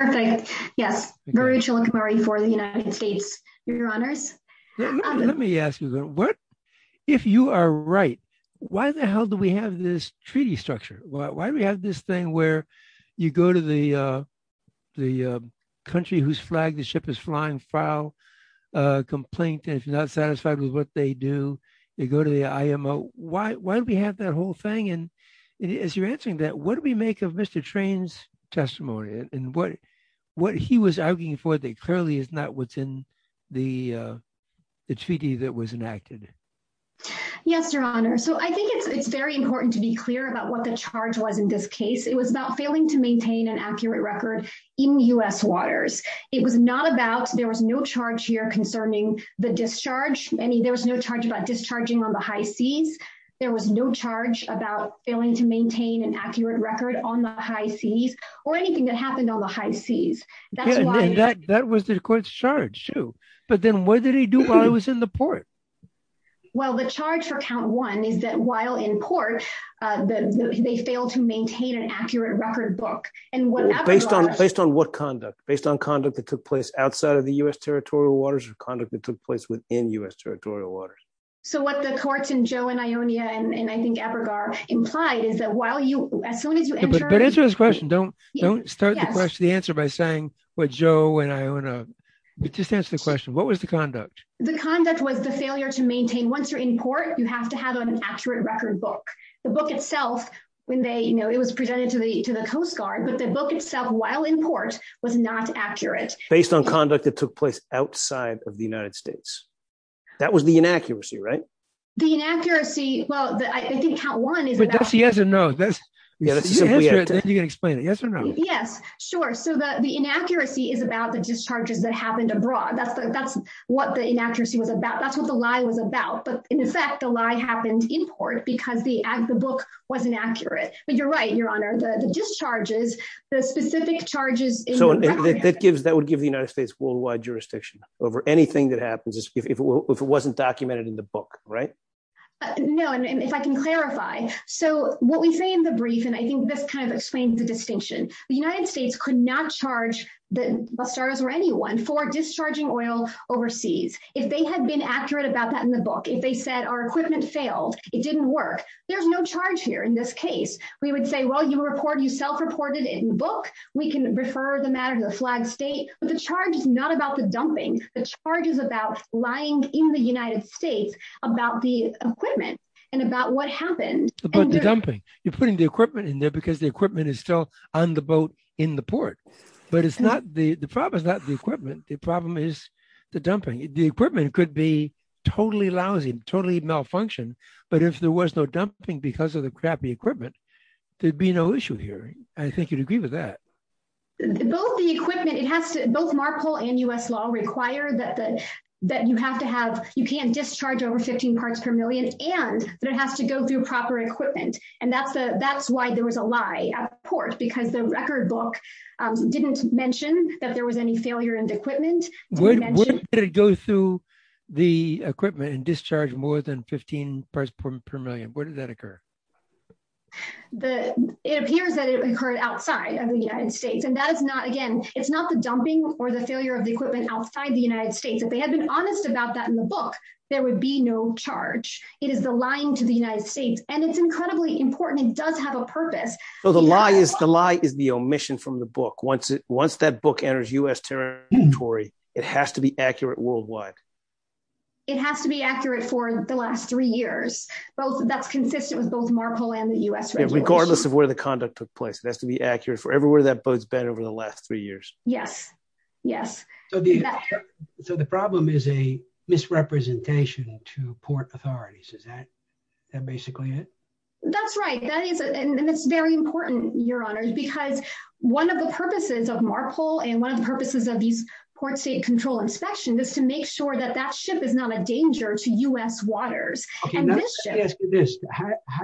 Okay, yes, Mary Shaila Kumari for the United States, Your Honor. Let me ask you, if you are right, why the hell do we have this treaty structure? Why do we have this thing where you go to the country whose flag the ship is flying, file a complaint, and if you're not satisfied with what they do, you go to the IMO. Why do we have that whole thing? As you're answering that, what do we make of Mr. Train's testimony and what he was arguing for that clearly is not within the treaty that was enacted? Yes, Your Honor, so I think it's very important to be clear about what the charge was in this case. It was about failing to maintain an accurate record in U.S. waters. It was not about, there was no charge here concerning the discharge. I mean, there was no charge about discharging on the high seas. There was no charge about failing to maintain an accurate record on the high seas or anything that happened on the high seas. That was the court's charge. But then what did he do while he was in the port? Well, the charge for count one is that while in port, they failed to maintain an accurate record book. Based on what conduct? Based on conduct that took place outside of the U.S. territorial waters or conduct that took place within U.S. territorial waters? So what the courts in Joe and Ionia and I think Ebergar implied is that while you, as soon as you answer his question, don't start to question the answer by saying what Joe and Ionia, but just answer the question, what was the conduct? The conduct was the failure to maintain, once you're in port, you have to have an accurate record book. The book itself when they, you know, it was presented to the Coast Guard, but the book itself while in port was not accurate. Based on conduct that took place outside of the United States. That was the inaccuracy, right? The inaccuracy, well, I think count one is. Yes or no? Yes, sure. So the inaccuracy is about the discharges that happened abroad. That's what the inaccuracy was about. That's what the lie was about. But in fact, the lie happened in port because the book wasn't accurate. But you're right, Your Honor, the discharges, the specific charges. So that would give the United States worldwide jurisdiction over anything that happens if it wasn't documented in the book, right? No, and if I can clarify. So what we say in the brief, and I think this kind of explains the distinction, the United States could not charge the officers or anyone for discharging oil overseas. If they had been accurate about that in the book, if they said our equipment failed, it didn't work. There's no charge here. In this case, we would say, well, you report yourself reported in the book. We can refer the matter to the flag state. But the charge is not about the dumping. The charge is about lying in the United States about the equipment and about what happened. But the dumping, you're putting the equipment in there because the equipment is still on the boat in the port. But the problem is not the equipment. The problem is the dumping. The equipment could be totally lousy and totally malfunctioned. But if there was no dumping because of the crappy equipment, there'd be no issue here. I think you'd agree with that. Both the equipment, it has to, both Marshall and U.S. law require that you have to have, you can't discharge over 15 parts per million, and it has to go through proper equipment. And that's why there was a lie, of course, because the record book didn't mention that there was any failure in the equipment. Would it go through the equipment and the record? It appears that it occurred outside of the United States. And that is not, again, it's not the dumping or the failure of the equipment outside the United States. If they had been honest about that in the book, there would be no charge. It is the lying to the United States. And it's incredibly important. It does have a purpose. So the lie is the omission from the book. Once that book enters U.S. territory, it has to be accurate worldwide. It has to be both Marshall and the U.S. Regardless of where the conduct took place, it has to be accurate for everywhere that boat's been over the last three years. Yes. Yes. So the problem is a misrepresentation to port authorities. Is that basically it? That's right. And it's very important, Your Honors, because one of the purposes of Marshall and one of the purposes of these port state control inspections is to make sure that that U.S. waters. How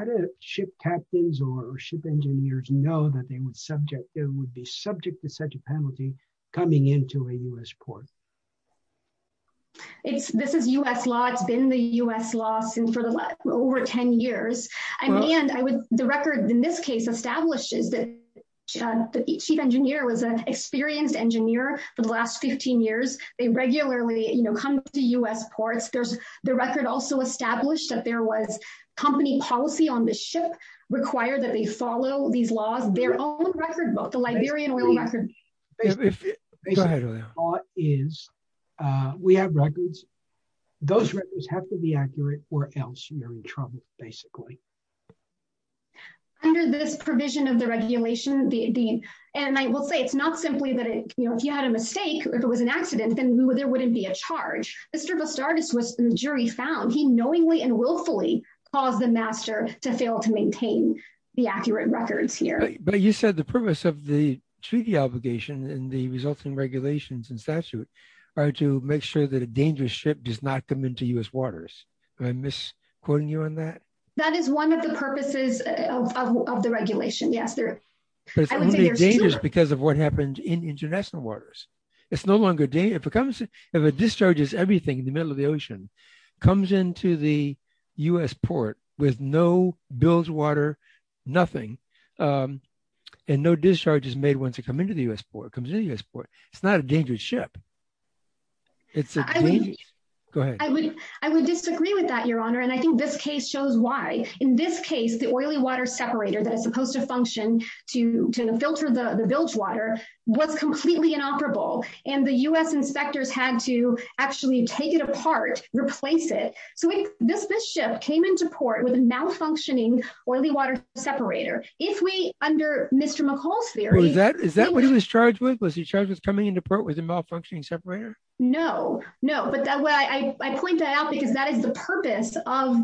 do ship captains or ship engineers know that they would subject, they would be subject to such a penalty coming into a U.S. port? This is U.S. law. It's been the U.S. law for over 10 years. And the record in this case establishes that the chief engineer was an experienced engineer for the last 15 years. They regularly come to U.S. ports. There's the record also established that there was company policy on the ship required that they follow these laws. Their own record book, the Liberian record book. Basically, the thought is we have records. Those records have to be accurate or else you're in trouble, basically. Under this provision of the regulations, and I will say it's not simply that if you had a mistake or if it was an accident, then there wouldn't be a charge. The jury found he knowingly and willfully caused the master to fail to maintain the accurate records here. But you said the purpose of the treaty obligation and the resulting regulations and statutes are to make sure that a dangerous ship does not come into U.S. waters. Did I miss quoting you on that? That is one of the purposes of the regulation, yes. It's dangerous because of what happens in international waters. It's no longer dangerous. If it discharges everything in the middle of the ocean, comes into the U.S. port with no bilge water, nothing, and no discharges made once it comes into the U.S. port. It's not a dangerous ship. Go ahead. I would disagree with that, Your Honor, and I think this case shows why. In this case, the oily water separator that is supposed to function to filter the bilge water was completely inoperable, and the U.S. inspectors had to actually take it apart, replace it. So this ship came into port with a malfunctioning oily water separator. If we, under Mr. McCall's theory- Is that what he was charged with? Was he charged with coming into port with a malfunctioning separator? No, no. But I point that out because that is the purpose of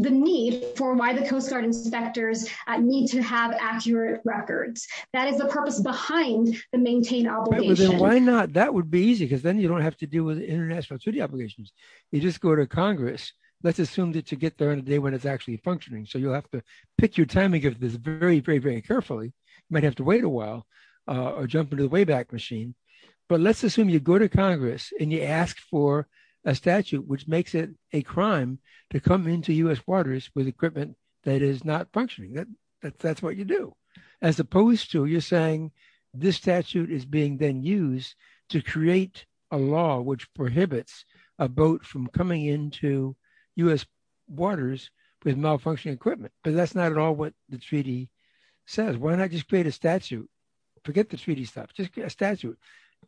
the need for why the Coast Guard inspectors need to have accurate records. That is the purpose behind the maintain obligation. Why not? That would be easy because then you don't have to deal with international duty obligations. You just go to Congress. Let's assume that you get there on the day when it's actually functioning. So you'll have to pick your timing of this very, very, very carefully. You might have to wait a while or jump into the wayback machine. But let's assume you go to Congress and you ask for a statute which makes it a crime to come into U.S. waters with equipment that is not functioning. That's what you do, as opposed to you saying this statute is being then used to create a law which prohibits a boat from coming into U.S. waters with malfunctioning equipment. But that's not at all what the treaty says. Why not just create a statute? Forget the treaty stuff. Just get a statute.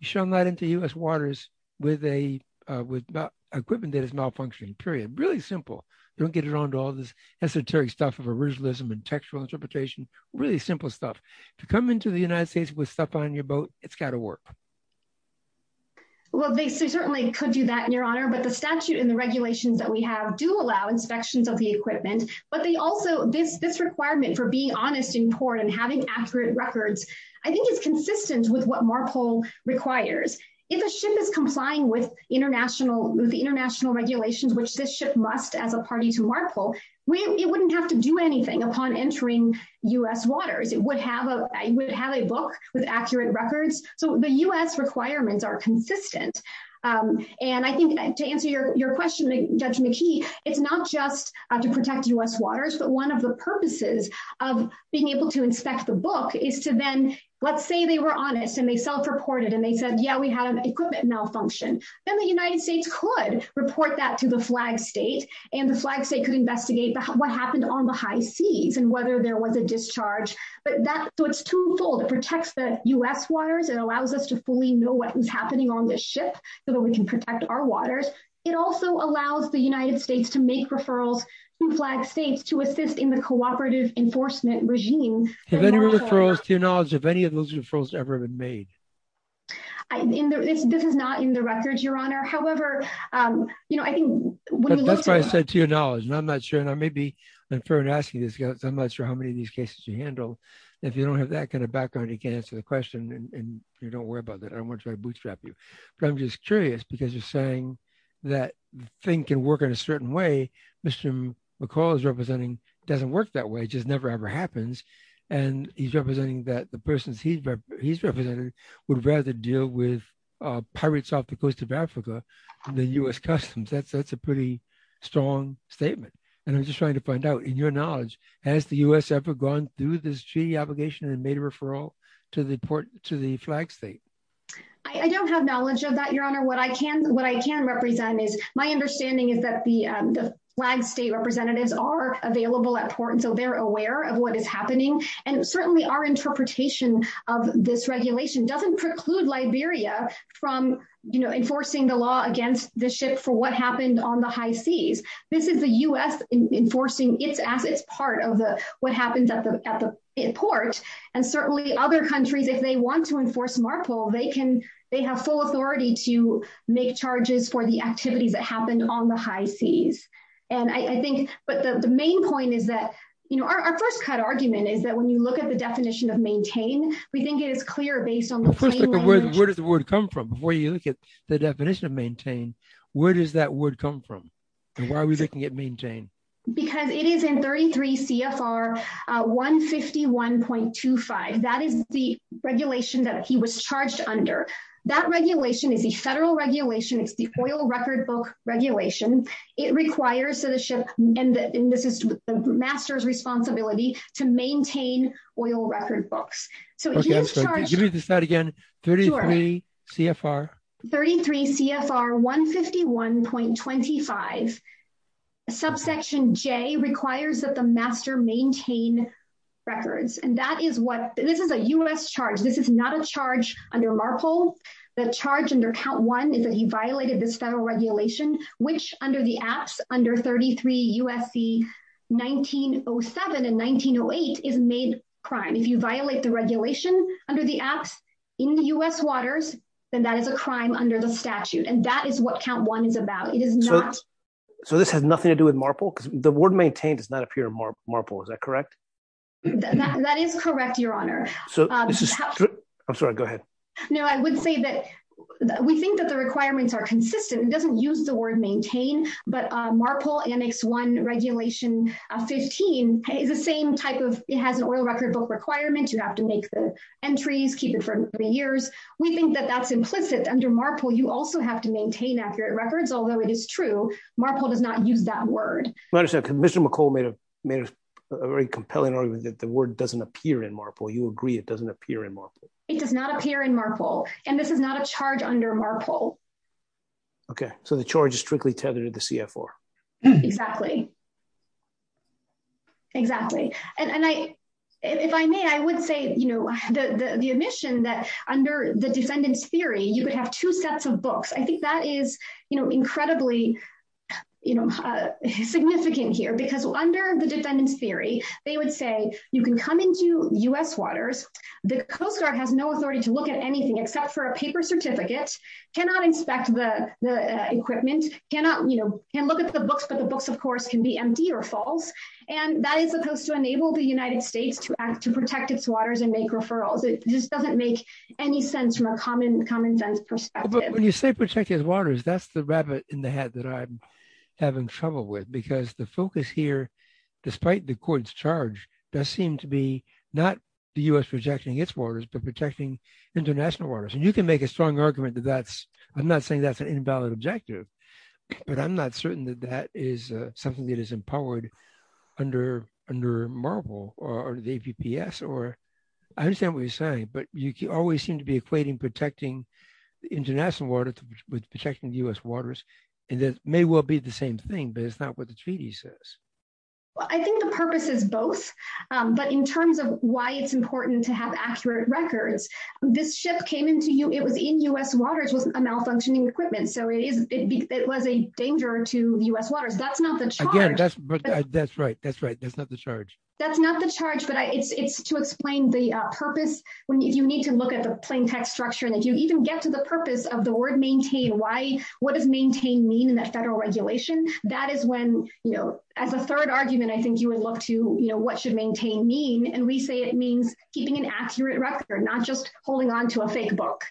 Showing that into U.S. waters with equipment that is malfunctioning, period. Really simple. Don't get around to all this esoteric stuff of originalism and textual interpretation. Really simple stuff. To come into the United States with stuff on your boat, it's got to work. Well, they certainly could do that, Your Honor. But the statute and the regulations that we have do allow inspections of the equipment. But they also, this requirement for being honest in court and having accurate records, I think is consistent with what MARPL requires. If a ship is complying with international regulations, which this ship must as a party to MARPL, it wouldn't have to do anything upon entering U.S. waters. It would have a book with accurate records. So the U.S. requirements are consistent. And I think to answer your question, Judge McKee, it's not just to protect U.S. waters, but one of the purposes of being able to inspect the book is to then, let's say they were honest and they self-reported and they said, yeah, we had an equipment malfunction. Then the United States could report that to the flag state and the flag state could investigate what happened on the high seas and whether there was a discharge. But that's what's twofold. It protects the U.S. waters. It allows us to fully know what was our waters. It also allows the United States to make referrals to flag states to assist in the cooperative enforcement regime. To your knowledge, have any of those referrals ever been made? This is not in the records, Your Honor. However, you know, I think. That's what I said to your knowledge. And I'm not sure, and I may be unfair in asking this, but I'm not sure how many of these cases you handle. If you don't have that kind of background, you can't answer the question and don't worry about that. I don't want to try to bootstrap you. I'm just curious because you're saying that the thing can work in a certain way. Mr. McCall is representing it doesn't work that way. It just never, ever happens. And he's representing that the person he's representing would rather deal with pirates off the coast of Africa than U.S. Customs. That's a pretty strong statement. And I'm just trying to find out, in your knowledge, has the U.S. ever gone through this treaty application and made a referral to the flag state? I don't have knowledge of that, Your Honor. What I can represent is my understanding is that the flag state representatives are available at port, and so they're aware of what is happening. And certainly our interpretation of this regulation doesn't preclude Liberia from, you know, enforcing the law against the ship for what happened on the high seas. This is the U.S. enforcing its part of the what happens at the port. And certainly other countries, if they want to enforce MARPL, they can, they have full authority to make charges for the activity that happened on the high seas. And I think, but the main point is that, you know, our first cut argument is that when you look at the definition of maintain, we think it is clear based on... First of all, where did the word come from? When you look at the definition of maintain, where does that word come from? And why are we looking at maintain? Because it is in 33 CFR 151.25. That is the regulation that he was charged under. That regulation is a federal regulation. It's the oil record book regulation. It requires the ship, and this is the master's responsibility, to maintain oil record books. So give me the slide again. 33 CFR. 33 CFR 151.25. Subsection J requires that the master maintain records. And that is what, this is a U.S. charge. This is not a charge under MARPL. The charge under count one is that he violated the federal regulation, which under the act, under 33 U.S.C. 1907 and 1908, is made crime. If you violate the under the act in U.S. waters, then that is a crime under the statute. And that is what count one is about. It is not... So this has nothing to do with MARPL? Because the word maintain does not appear in MARPL. Is that correct? That is correct, your honor. I'm sorry. Go ahead. No, I would say that we think that the requirements are consistent. It doesn't use the word maintain, but MARPL annex one regulation 15 is the same type of... It has oil record book requirements. You have to make the entries, keep it for years. We think that that's implicit under MARPL. You also have to maintain accurate records. Although it is true, MARPL does not use that word. Commissioner McColl made a very compelling argument that the word doesn't appear in MARPL. You agree it doesn't appear in MARPL? It does not appear in MARPL. And this is not a charge under MARPL. Okay. So the charge is strictly tethered to the CFR. Exactly. Exactly. And if I may, I would say the admission that under the defendant's theory, you would have two sets of books. I think that is incredibly significant here because under the defendant's theory, they would say you can come into US waters. The Coast Guard has no authority to look at anything except for a paper certificate, cannot inspect the equipment, cannot look at the books, but the books, of course, can be empty or full. And that is supposed to enable the United States to protect its waters and make referrals. It just doesn't make any sense from a common gender perspective. When you say protect its waters, that's the rabbit in the hat that I'm having trouble with because the focus here, despite the court's charge, does seem to be not the US rejecting its waters, but protecting international waters. And you can make a strong valid objective, but I'm not certain that that is something that is empowered under MARPL or the APPS. I understand what you're saying, but you always seem to be equating protecting international waters with protecting the US waters. And that may well be the same thing, but it's not what the treaty says. Well, I think the purpose is both, but in terms of why it's important to have accurate records, this shift came into you, a malfunctioning equipment. So it was a danger to the US waters. That's not the charge. Again, that's right. That's right. That's not the charge. That's not the charge, but it's to explain the purpose. You need to look at the plain text structure. And if you even get to the purpose of the word maintain, what does maintain mean in the federal regulation? That is when, as a third argument, I think you would look to what should maintain mean, and we say it means keeping an accurate record, not just holding on to a fake book.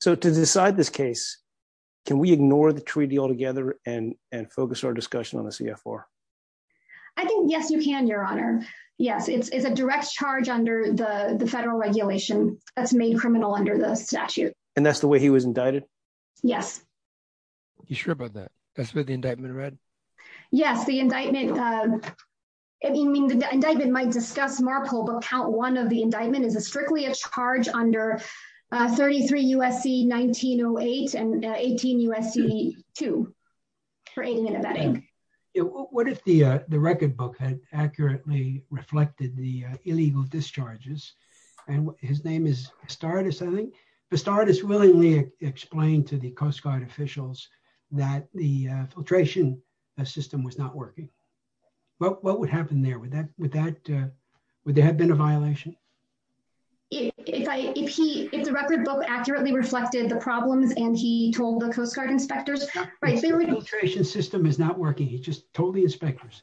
So to decide this case, can we ignore the treaty altogether and focus our discussion on the CFR? I think, yes, you can, your honor. Yes. It's a direct charge under the federal regulation that's made criminal under the statute. And that's the way he was indicted? Yes. You sure about that? That's what the indictment read? Yes. The indictment might discuss MARPL, but count one of the indictment is a strictly a charge under 33 U.S.C. 1908 and 18 U.S.C. 2 for aiding and abetting. What if the record book had accurately reflected the illegal discharges, and his name is Astartes, I think. Astartes willingly explained to the Coast Guard officials that the filtration system was not working. What would happen there? Would there have been a violation? If he, if the record book accurately reflected the problems and he told the Coast Guard inspectors, the filtration system is not working, he just told the inspectors.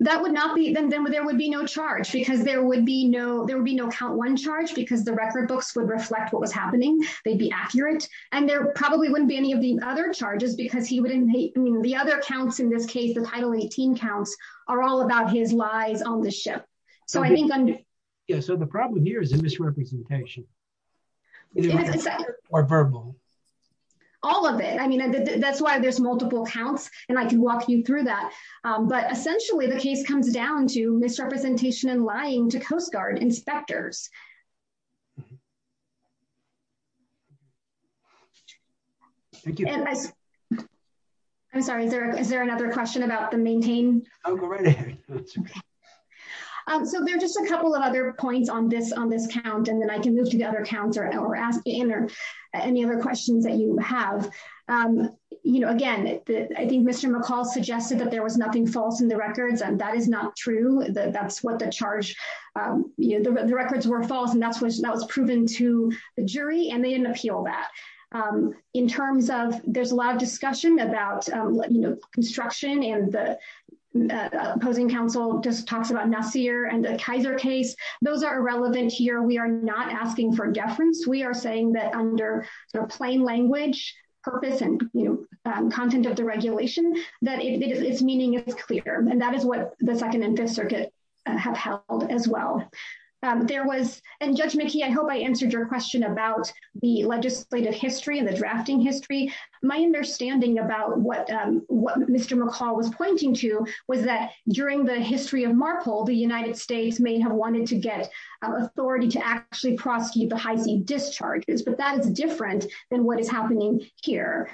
That would not be, then there would be no charge because there would be no, there would be no count one charge because the record books would reflect what was happening. They'd be accurate. And there probably wouldn't be any of the other charges because he wouldn't, the other counts in this case, the final 18 counts are all about his lies on the ship. So I think I'm, yeah. So the problem here is the misrepresentation or verbal. All of it. I mean, that's why there's multiple counts and I can walk you through that. But essentially the case comes down to misrepresentation and lying to Coast Guard inspectors. Thank you. I'm sorry. Is there, is there another question about the maintain? So there's just a couple of other points on this, on this count, and then I can move to the other counts or ask to enter any other questions that you have. You know, again, I think Mr. McCall suggested that there was nothing false in the records and that is not true. That's what the charge, you know, the records were false and that was proven to the jury and they didn't appeal that. In terms of, there's a lot of discussion about, you know, construction and the opposing counsel just talked about Nassir and the Kaiser case. Those are irrelevant here. We are not asking for deference. We are saying that under their plain language purpose and, you know, content of the regulation that its meaning is clear and that is what the Second and Fifth Circuit have held as well. There was, and Judge McKee, I hope I answered your question about the legislative history and the drafting history. My understanding about what, what Mr. McCall was pointing to was that during the history of MARPOL, the United States may have wanted to get authority to actually discharges, but that is different than what is happening here.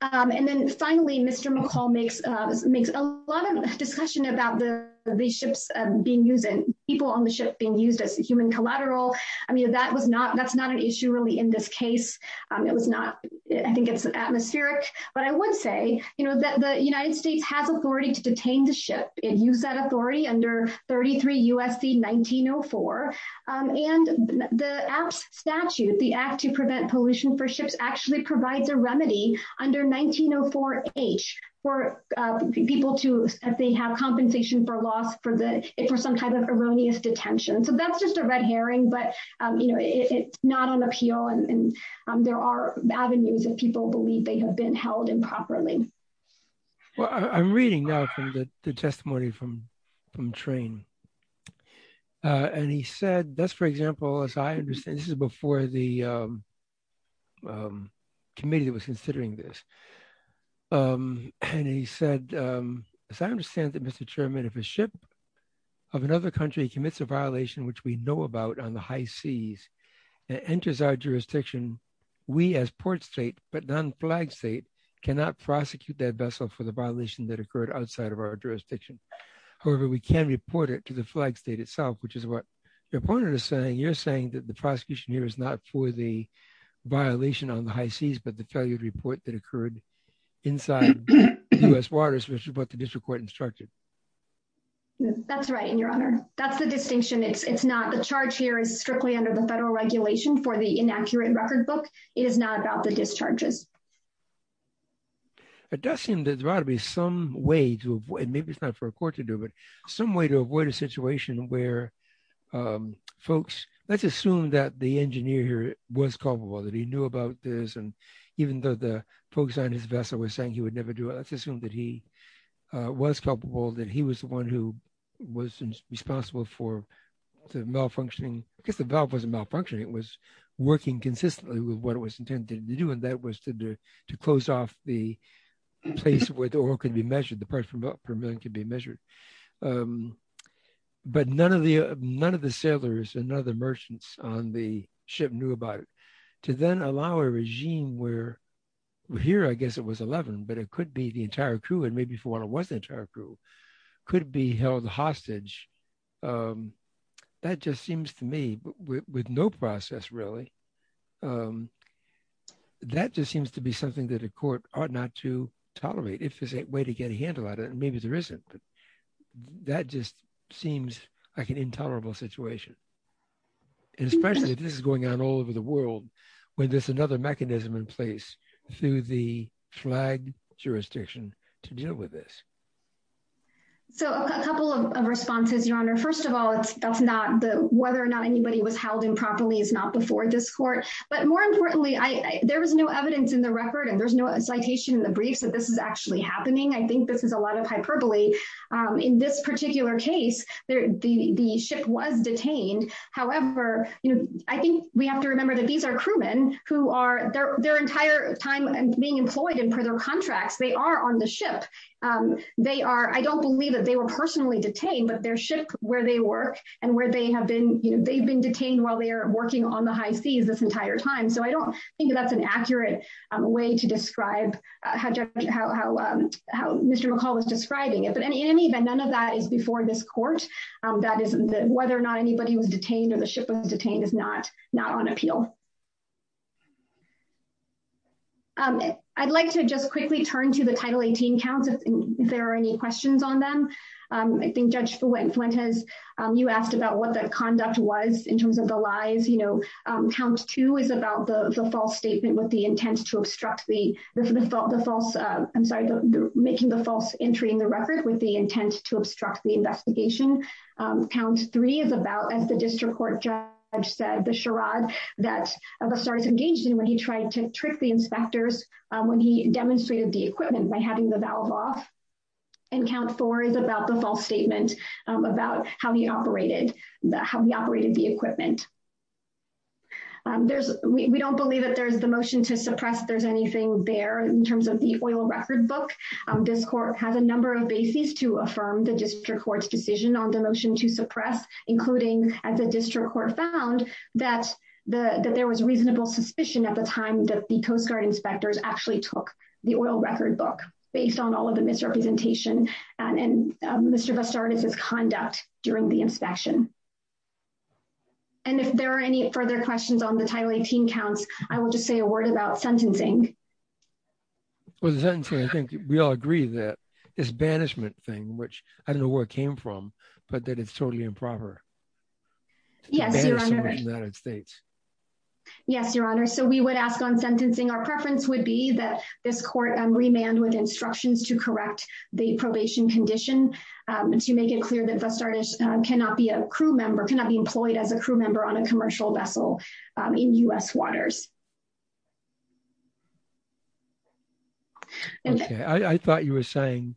And then finally, Mr. McCall makes, makes a lot of discussion about the, the ships being used and people on the ship being used as human collateral. I mean, that was not, that's not an issue really in this case. It was not, I think it's atmospheric, but I would say, you know, that the United States has authority to detain the ship and use that authority under 33 U.S.C. 1904. And the statute, the Act to Prevent Pollution for Ships actually provides a remedy under 1904H for people to, as they have compensation for loss for the, for some kind of erroneous detention. So that's just a red herring, but you know, it's not an appeal and there are avenues that people believe they have been held improperly. Well, I'm reading now from the testimony from, from Train. And he said, that's, for example, as I understand, this is before the committee was considering this. And he said, as I understand that Mr. Chairman, if a ship of another country commits a violation, which we know about on the high seas, it enters our jurisdiction. We as port state, but non-flag state cannot prosecute that vessel for the violation that occurred outside of our jurisdiction. However, we can report it to the flag state itself, which is what your point is saying. You're saying that the prosecution here is not for the violation on the high seas, but to tell you the report that occurred inside U.S. waters, which is what the district court instructed. That's right. And your honor, that's the distinction. It's not the charge here is strictly under the federal regulation for the inaccurate record book. It is not about the discharges. But Dustin, there's got to be some way to avoid, maybe it's not for a court to do it, some way to avoid a situation where folks, let's assume that the engineer here was culpable, that he knew about this. And even though the folks on his vessel were saying he would never do it, let's assume that he was culpable, that he was the one who was responsible for the malfunctioning, because the valve wasn't malfunctioning. It was working consistently with what it was intended to do. And that was to close off the place where the oil could be measured, the price per million could be measured. But none of the sailors and none of the merchants on the ship knew about it. To then allow a regime where here, I guess it was 11, but it could be the entire crew, and maybe if it wasn't the entire crew, could be held hostage. That just seems to me, with no process really, that just seems to be something that a court ought not to tolerate. If there's a way to get a handle on it, maybe there isn't, but that just seems like an intolerable situation. And especially if this is going on all over the world, when there's another mechanism in place through the flag jurisdiction to deal with this. So a couple of responses, Your Honor. First of all, whether or not anybody was held improperly is not before this court. But more importantly, there was no evidence in the record, and there's no citation in the brief that this is actually happening. I think this is a lot of hyperbole. In this particular case, the ship was detained. However, I think we have to remember that these are crewmen who are, their entire time being employed in criminal contracts, they are on the ship. They are, I don't believe that they were personally detained, but their ship, where they work, and where they have been, they've been detained while they are working on the high seas this entire time. So I don't think that's an accurate way to describe how Mr. McCall is describing it. But in any event, none of that is before this court. That is, whether or not anybody was detained or the ship was detained is not on appeal. I'd like to just quickly turn to the Title 18 counts, if there are any questions on them. I think Judge Fuentes, you asked about what that conduct was in terms of the lies. Count two is about the false statement with the intent to obstruct the, the false, I'm sorry, making the false entry in the record with the intent to obstruct the investigation. Count three is about, as the district court judge said, the charade that Rossard's engaged in when he tried to trick the inspectors when he demonstrated the equipment by having the valve off. And count four is about the false statement about how he operated, how he operated the equipment. There's, we don't believe that there's the motion to suppress there's anything there in terms of the oil record book. This court has a number of bases to affirm the district court's decision on the motion to suppress, including as the district court found that the, that there was reasonable suspicion at the time that the Coast Guard inspectors actually took the oil record book based on all of the misrepresentation and Mr. Rossard's conduct during the inspection. And if there are any further questions on the Title 18 counts, I will just say a word about sentencing. Well, the sentencing, I think we all agree that it's a banishment thing, which I don't know where it came from, but that it's totally improper. Yes, your honor. Yes, your honor. So we would ask on sentencing. Our preference would be that this court remand with instructions to correct the probation condition. To make it clear that Rossard cannot be a crew member, cannot be employed as a crew member on a commercial vessel in U.S. waters. Okay. I thought you were saying,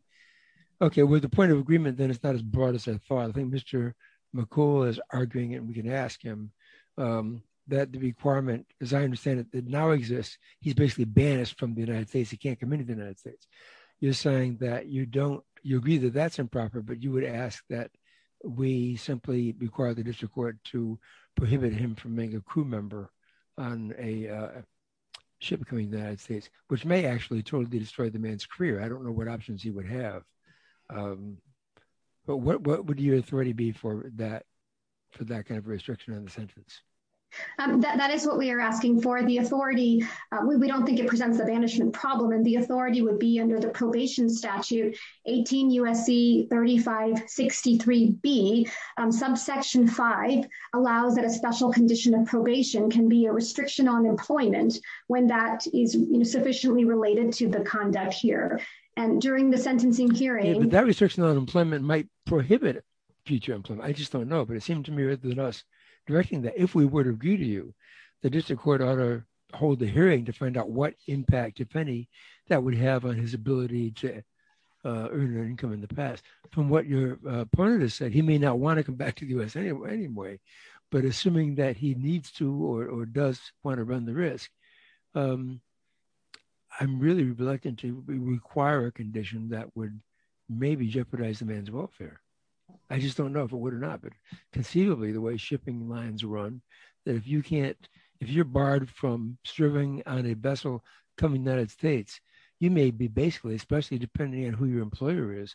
okay, with the point of agreement, then it's not as broad as I thought. I think Mr. McCall is arguing it and we can ask him that the requirement, as I understand it, that now exists, he's basically banished from the United States. He can't come into the United States. You're saying that you don't, you agree that that's improper, but you would ask that we simply require the district court to prohibit him from being a crew member on a ship coming to the United States, which may actually totally destroy the man's career. I don't know what options you would have, but what would your authority be for that kind of restriction on the sentence? That is what we are asking for. The authority, we don't think it presents a banishment problem and the authority would be under the probation statute, 18 U.S.C. 3563B, subsection five, allows that a special condition of probation can be a sufficiently related to the conduct here. And during the sentencing hearing- That restriction on employment might prohibit future employment. I just don't know, but it seems to me that if we would agree to you, the district court ought to hold the hearing to find out what impact, if any, that would have on his ability to earn an income in the past. From what your partner has said, he may not want to come back to the U.S. anyway, but assuming that he I'm really reluctant to require a condition that would maybe jeopardize the man's welfare. I just don't know if it would or not, but conceivably the way shipping lines run, that if you can't, if you're barred from serving on a vessel coming to the United States, you may be basically, especially depending on who your employer is,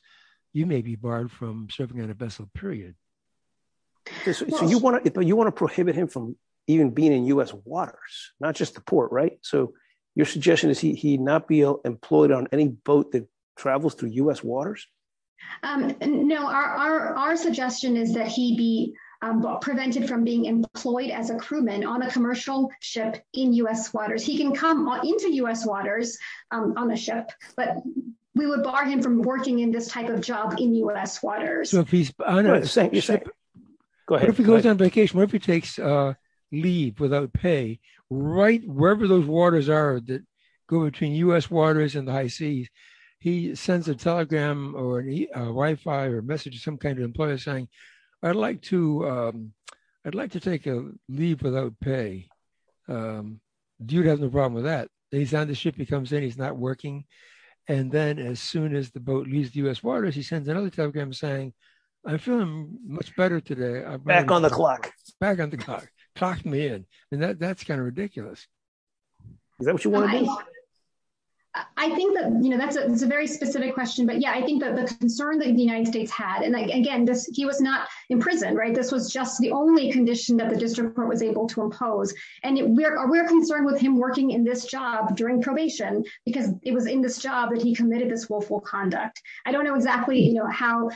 you may be barred from serving on a vessel, period. So you want to prohibit him from even being in U.S. waters, not just the port, so your suggestion is he not be employed on any boat that travels through U.S. waters? No, our suggestion is that he be prevented from being employed as a crewman on a commercial ship in U.S. waters. He can come into U.S. waters on a ship, but we would bar him from working in this type of job in U.S. waters. If he goes on vacation, or if he takes leave without pay, wherever those waters are that go between U.S. waters and the high seas, he sends a telegram or a Wi-Fi or message to some kind of employer saying, I'd like to take a leave without pay. Dude has no problem with that. He's on the ship, he comes in, he's not working, and then as soon as the boat leaves the U.S. waters, he sends another telegram saying, I feel much better today. Back on the clock. Back on the clock. Clocked me in, and that's kind of ridiculous. I think that's a very specific question, but yeah, I think that the concern that the United States had, and again, he was not in prison, right? This was just the only condition that the district court was able to impose, and we're concerned with him working in this job during probation because it was in this job that he committed this willful conduct. I don't know exactly how,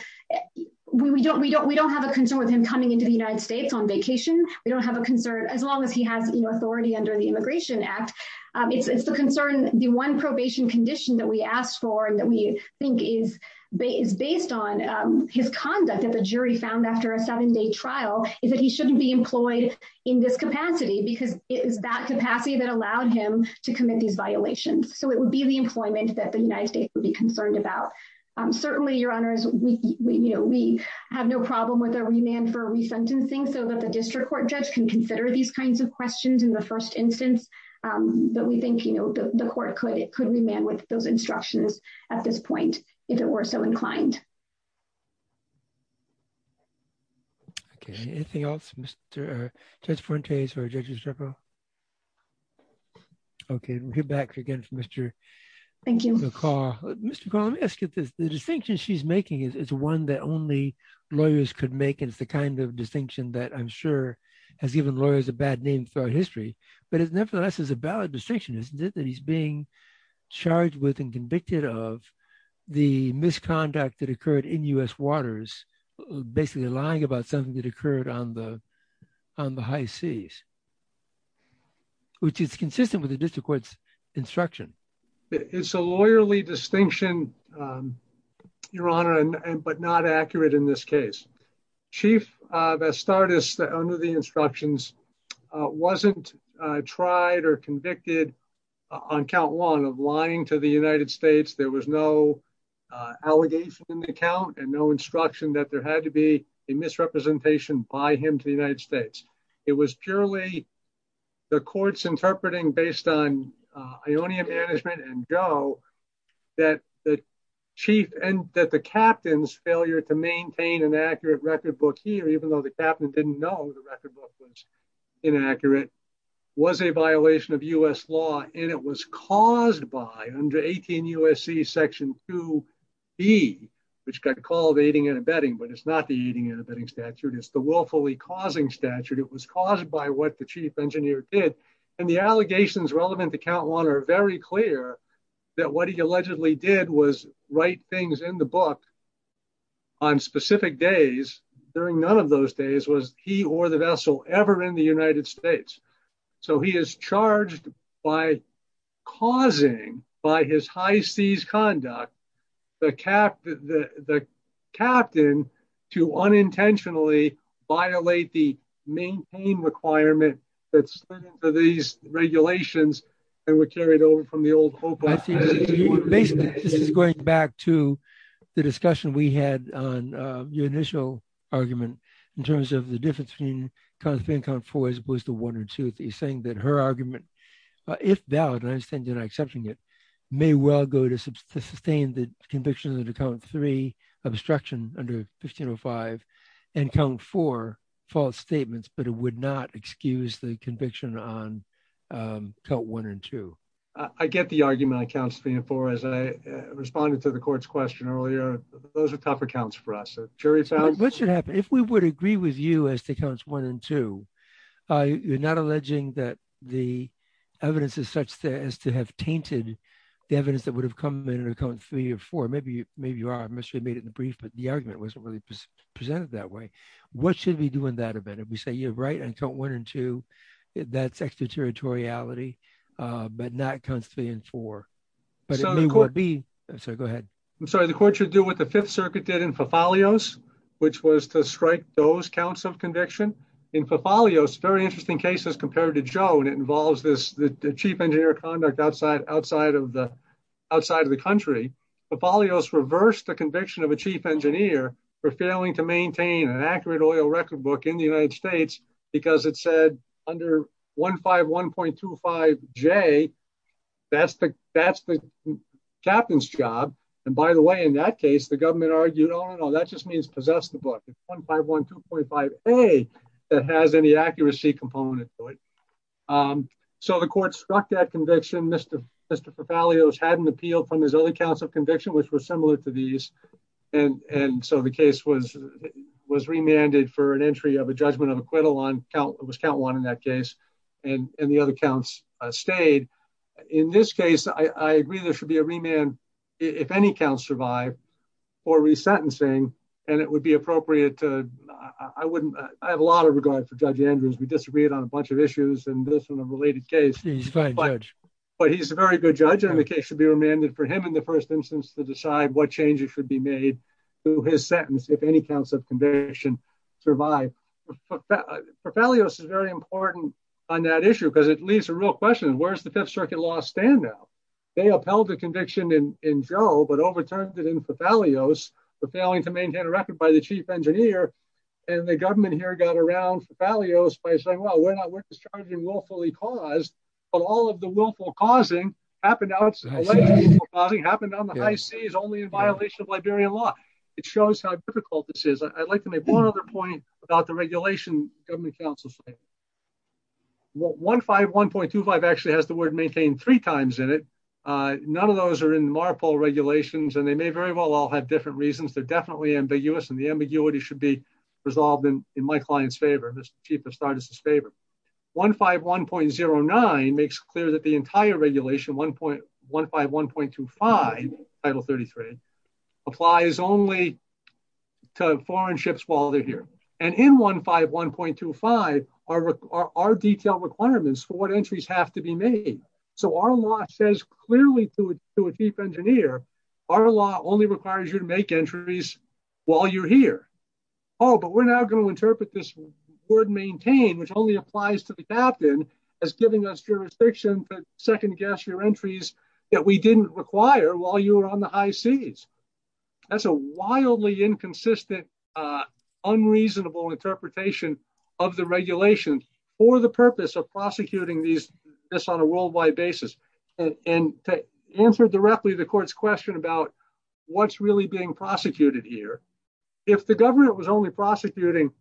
we don't have a concern with him coming into the United States on vacation. We don't have a concern as long as he has authority under the Immigration Act. It's the concern, the one probation condition that we asked for and that we think is based on his conduct as a jury found after a seven-day trial is that he shouldn't be employed in this capacity because it is that capacity that allowed him to commit these violations. So it would be the employment that the United States would be concerned about. Certainly, Your Honors, we have no problem with a remand for resentencing so that the district court judge can consider these kinds of questions in the first instance, but we think the court could remand with those instructions at this point if it were so inclined. Okay, anything else, Judge Fuentes or Judge Estrepo? Okay, we'll get back again to Mr. McCaw. Mr. McCaw, let me ask you, the distinction she's making is one that only lawyers could make. It's the kind of distinction that I'm sure has given lawyers a bad name throughout history, but it nevertheless is a valid distinction, isn't it, that he's being charged with and convicted of the misconduct that occurred in U.S. waters, basically lying about something that occurred on the high seas, which is consistent with the district court's instruction. It's a lawyerly distinction, Your Honor, but not accurate in this case. Chief Vestardus, under the instructions, wasn't tried or convicted on count one of lying to the United States. There was no allegation in the count and no instruction that there had to be a misrepresentation by him to the United States. It was purely the court's interpreting based on Ionian management and Joe that the chief and that the captain's failure to maintain an accurate record book here, even though the captain didn't know the record book was inaccurate, was a violation of U.S. law and it was caused by under 18 U.S.C. section 2b, which got called aiding and abetting, but it's not the aiding and abetting statute. It's the willfully causing statute. It was caused by what the chief did. And the allegations relevant to count one are very clear that what he allegedly did was write things in the book on specific days. During none of those days was he or the vessel ever in the United States. So he is charged by causing, by his high seas conduct, the captain to unintentionally violate the maintain requirement that's written for these regulations and were carried over from the old. Basically, going back to the discussion we had on your initial argument in terms of the difference between constant count four as opposed to one or two, he's saying that her argument, if doubt, and I understand you're not accepting it, may well go to sustain the conviction of the count three obstruction under 1505 and count four false statements, but it would not excuse the conviction on count one and two. I get the argument on counts three and four. As I responded to the court's question earlier, those are tougher counts for us. If we would agree with you as to counts one and two, you're not alleging that the evidence is to have tainted the evidence that would have come in under count three or four. Maybe you are. I must have made it in the brief, but the argument wasn't really presented that way. What should we do in that event? If we say you're right on count one and two, that's extraterritoriality, but not counts three and four. Go ahead. I'm sorry. The court should do what the Fifth Circuit did in Fathalios, which was to strike those counts of conviction. In Fathalios, very interesting cases compared to Joe, and it involves the chief engineer conduct outside of the country. Fathalios reversed the conviction of a chief engineer for failing to maintain an accurate oil record book in the United States because it said under 151.25J, that's the captain's job. By the way, in that case, the government argued, no, no, no, that just means possess the book. It's 151.25A that has any accuracy component to it. The court struck that conviction. Mr. Fathalios had an appeal from his other counts of conviction, which were similar to these. The case was remanded for an entry of a judgment of acquittal on count one in that case, and the other counts stayed. In this case, I agree there should be a remand if any counts survive for resentencing, and it would be appropriate. I have a lot of regard for Judge Andrews. We disagreed on a bunch of issues in this and a related case, but he's a very good judge, and the case should be remanded for him in the first instance to decide what changes should be made to his sentence if any counts of conviction survive. Fathalios is very important on that issue because it leaves a real question. Where's the Fifth Circuit law stand now? They upheld the conviction in Joe, but overturned it in Fathalios for failing to maintain a record by the chief engineer, and the government here got around Fathalios by saying, well, we're not discharging willfully caused, but all of the willful causing happened on the high seas only in violation of Liberian law. It shows how difficult this is. I'd like to make one other point about the regulation government counsels make. 151.25 actually has the word maintain three times in it. None of those are in MARPOL regulations, and they may very well all have different reasons. They're definitely ambiguous, and the ambiguity should be resolved in my client's favor, Mr. Chief Astartes' favor. 151.09 makes clear that the entire regulation, 151.25, Title 33, applies only to foreign ships while they're here, and in 151.25 are detailed requirements for what to a chief engineer. Our law only requires you to make entries while you're here. Oh, but we're now going to interpret this word maintain, which only applies to the captain, as giving us jurisdiction to second guess your entries that we didn't require while you were on the high seas. That's a wildly inconsistent, unreasonable interpretation of the regulations for the purpose of prosecuting this on a worldwide basis, and to answer directly the court's question about what's really being prosecuted here. If the government was only prosecuting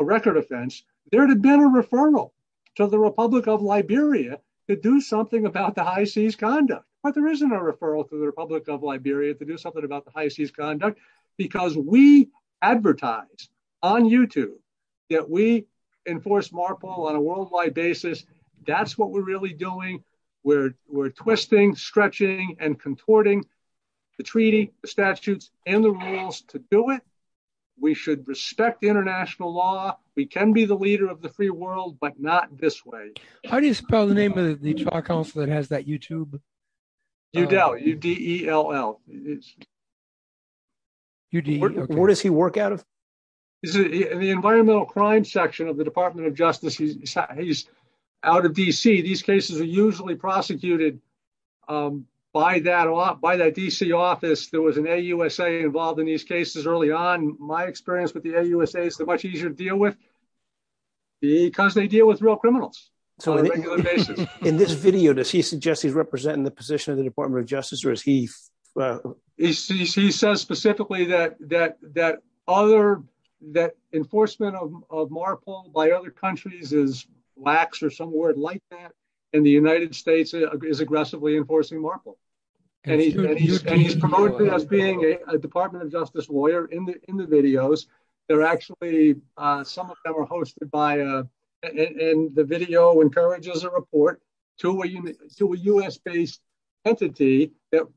a record offense, there'd have been a referral to the Republic of Liberia to do something about the high seas conduct, but there isn't a referral to the Republic of Liberia to do about the high seas conduct because we advertise on YouTube that we enforce MARPOL on a worldwide basis. That's what we're really doing. We're twisting, stretching, and contorting the treaty, the statutes, and the rules to do it. We should respect international law. We can be the leader of the free world, but not this way. How do you spell the name of the park house that has that YouTube? UDELL. U-D-E-L-L. Where does he work out of? In the environmental crime section of the Department of Justice. He's out of D.C. These cases are usually prosecuted by that D.C. office. There was an AUSA involved in these cases early on. My experience with the AUSA is they're much easier to deal with because they deal with real criminals on a regular basis. In this video, does he suggest he's representing the position of the Department of Justice? He says specifically that enforcement of MARPOL by other countries is lax, or some word like that, and the United States is aggressively enforcing MARPOL. He promoted us being a Department of Justice lawyer in the videos. They're actually, some of them are hosted by, and the video encourages a report to a U.S.-based entity that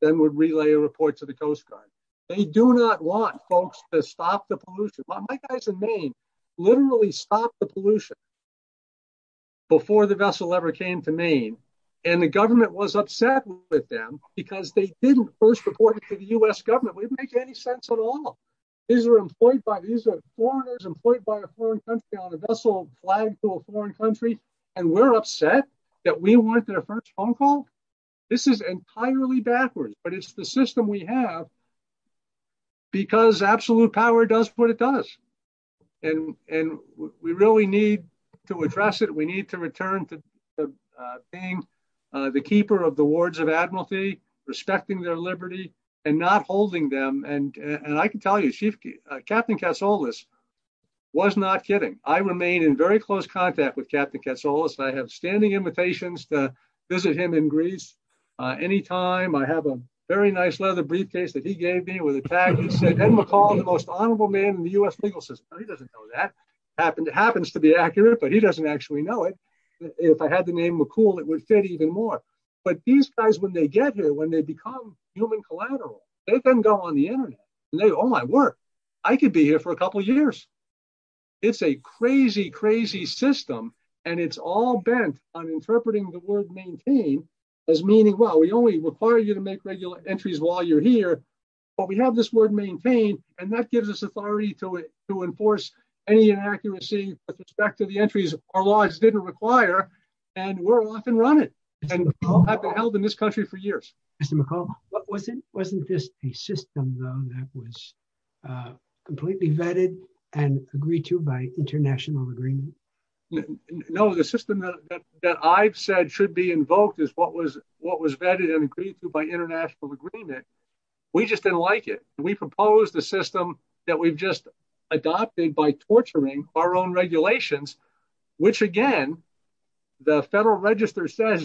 then would relay a report to the Coast Guard. They do not want folks to stop the pollution. My guys in Maine literally stopped the pollution before the vessel ever came to Maine, and the government was upset with them because they didn't first report it to the U.S. government. It didn't make any sense at all. These are foreigners employed by a foreign country on a vessel flying to a foreign country, and we're upset that we weren't their first phone call? This is entirely backwards, but it's the system we have because absolute power does what it does. We really need to address it. We need to return to being the keeper of the wards of admiralty, respecting their liberty, and not holding them. I can tell you, Captain Katsoulis was not kidding. I remain in very close contact with Captain Katsoulis. I have standing invitations to visit him in Greece anytime. I have a very nice leather briefcase that he gave me with a tag that said, Ed McCall, the most honorable man in the U.S. legal system. He doesn't know that. It happens to be accurate, but he doesn't actually know it. If I had the name McCool, it would fit even more. But these guys, when they get here, when they become human collateral, they can go on the internet and say, oh, I work. I could be here for a couple years. It's a crazy, crazy system, and it's all bent on interpreting the word maintain as meaning, well, we only require you to make regular entries while you're here, but we have this word maintain, and that gives us authority to enforce any inaccuracy with respect to the entries our people have been running and held in this country for years. Mr. McCall, wasn't this a system, though, that was completely vetted and agreed to by international agreement? No, the system that I've said should be invoked is what was vetted and agreed to by international agreement. We just didn't like it. We proposed a system that we've just adopted by torturing our own people.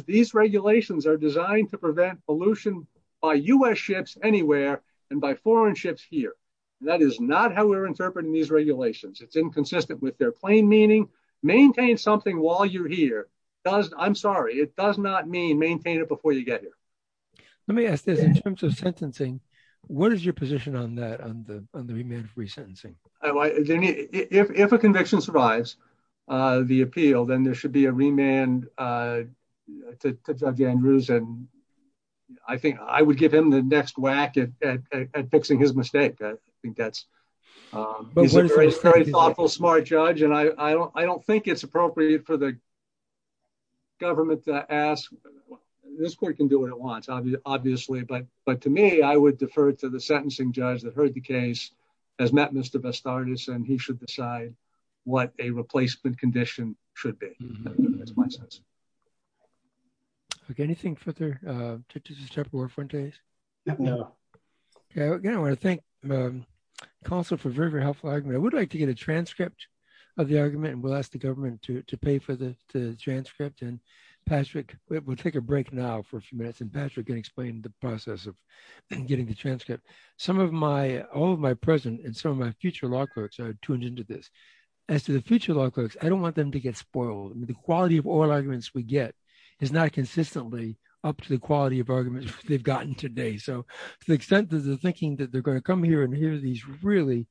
These regulations are designed to prevent pollution by U.S. ships anywhere and by foreign ships here. That is not how we're interpreting these regulations. It's inconsistent with their plain meaning. Maintain something while you're here. I'm sorry, it does not mean maintain it before you get here. Let me ask you, in terms of sentencing, what is your position on that, on the remand-free sentencing? If a conviction survives the appeal, then there should be a remand to Judge Andrews. I think I would give him the next whack at fixing his mistake. I think that's a very thoughtful, smart judge. I don't think it's appropriate for the government to ask. This court can do what it wants, obviously, but to me, I would defer to the sentencing judge that heard the case, has met Mr. Bastardas, and he should decide what a replacement condition should be. That's my sense. Okay, anything further, Justice Chaparro-Fuentes? No. Okay, I want to thank counsel for a very, very helpful argument. I would like to get a transcript of the argument, and we'll ask the government to pay for the transcript, and Patrick, we'll take a break now for a few minutes, and Patrick can explain the process of getting the transcript. Some of my, all of my present and some of my future law clerks are tuned into this. As to the future law clerks, I don't want them to get spoiled. The quality of all arguments we get is not consistently up to the quality of arguments they've gotten today, so to the extent that they're thinking that they're going to come here and hear these really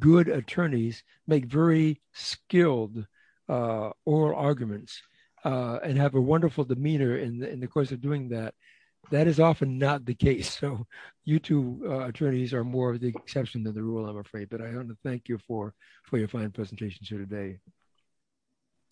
good attorneys make very skilled oral arguments and have a wonderful demeanor in the course of doing that, that is often not the case, so you two attorneys are more of the exception than the rule, but I want to thank you for your fine presentations here today.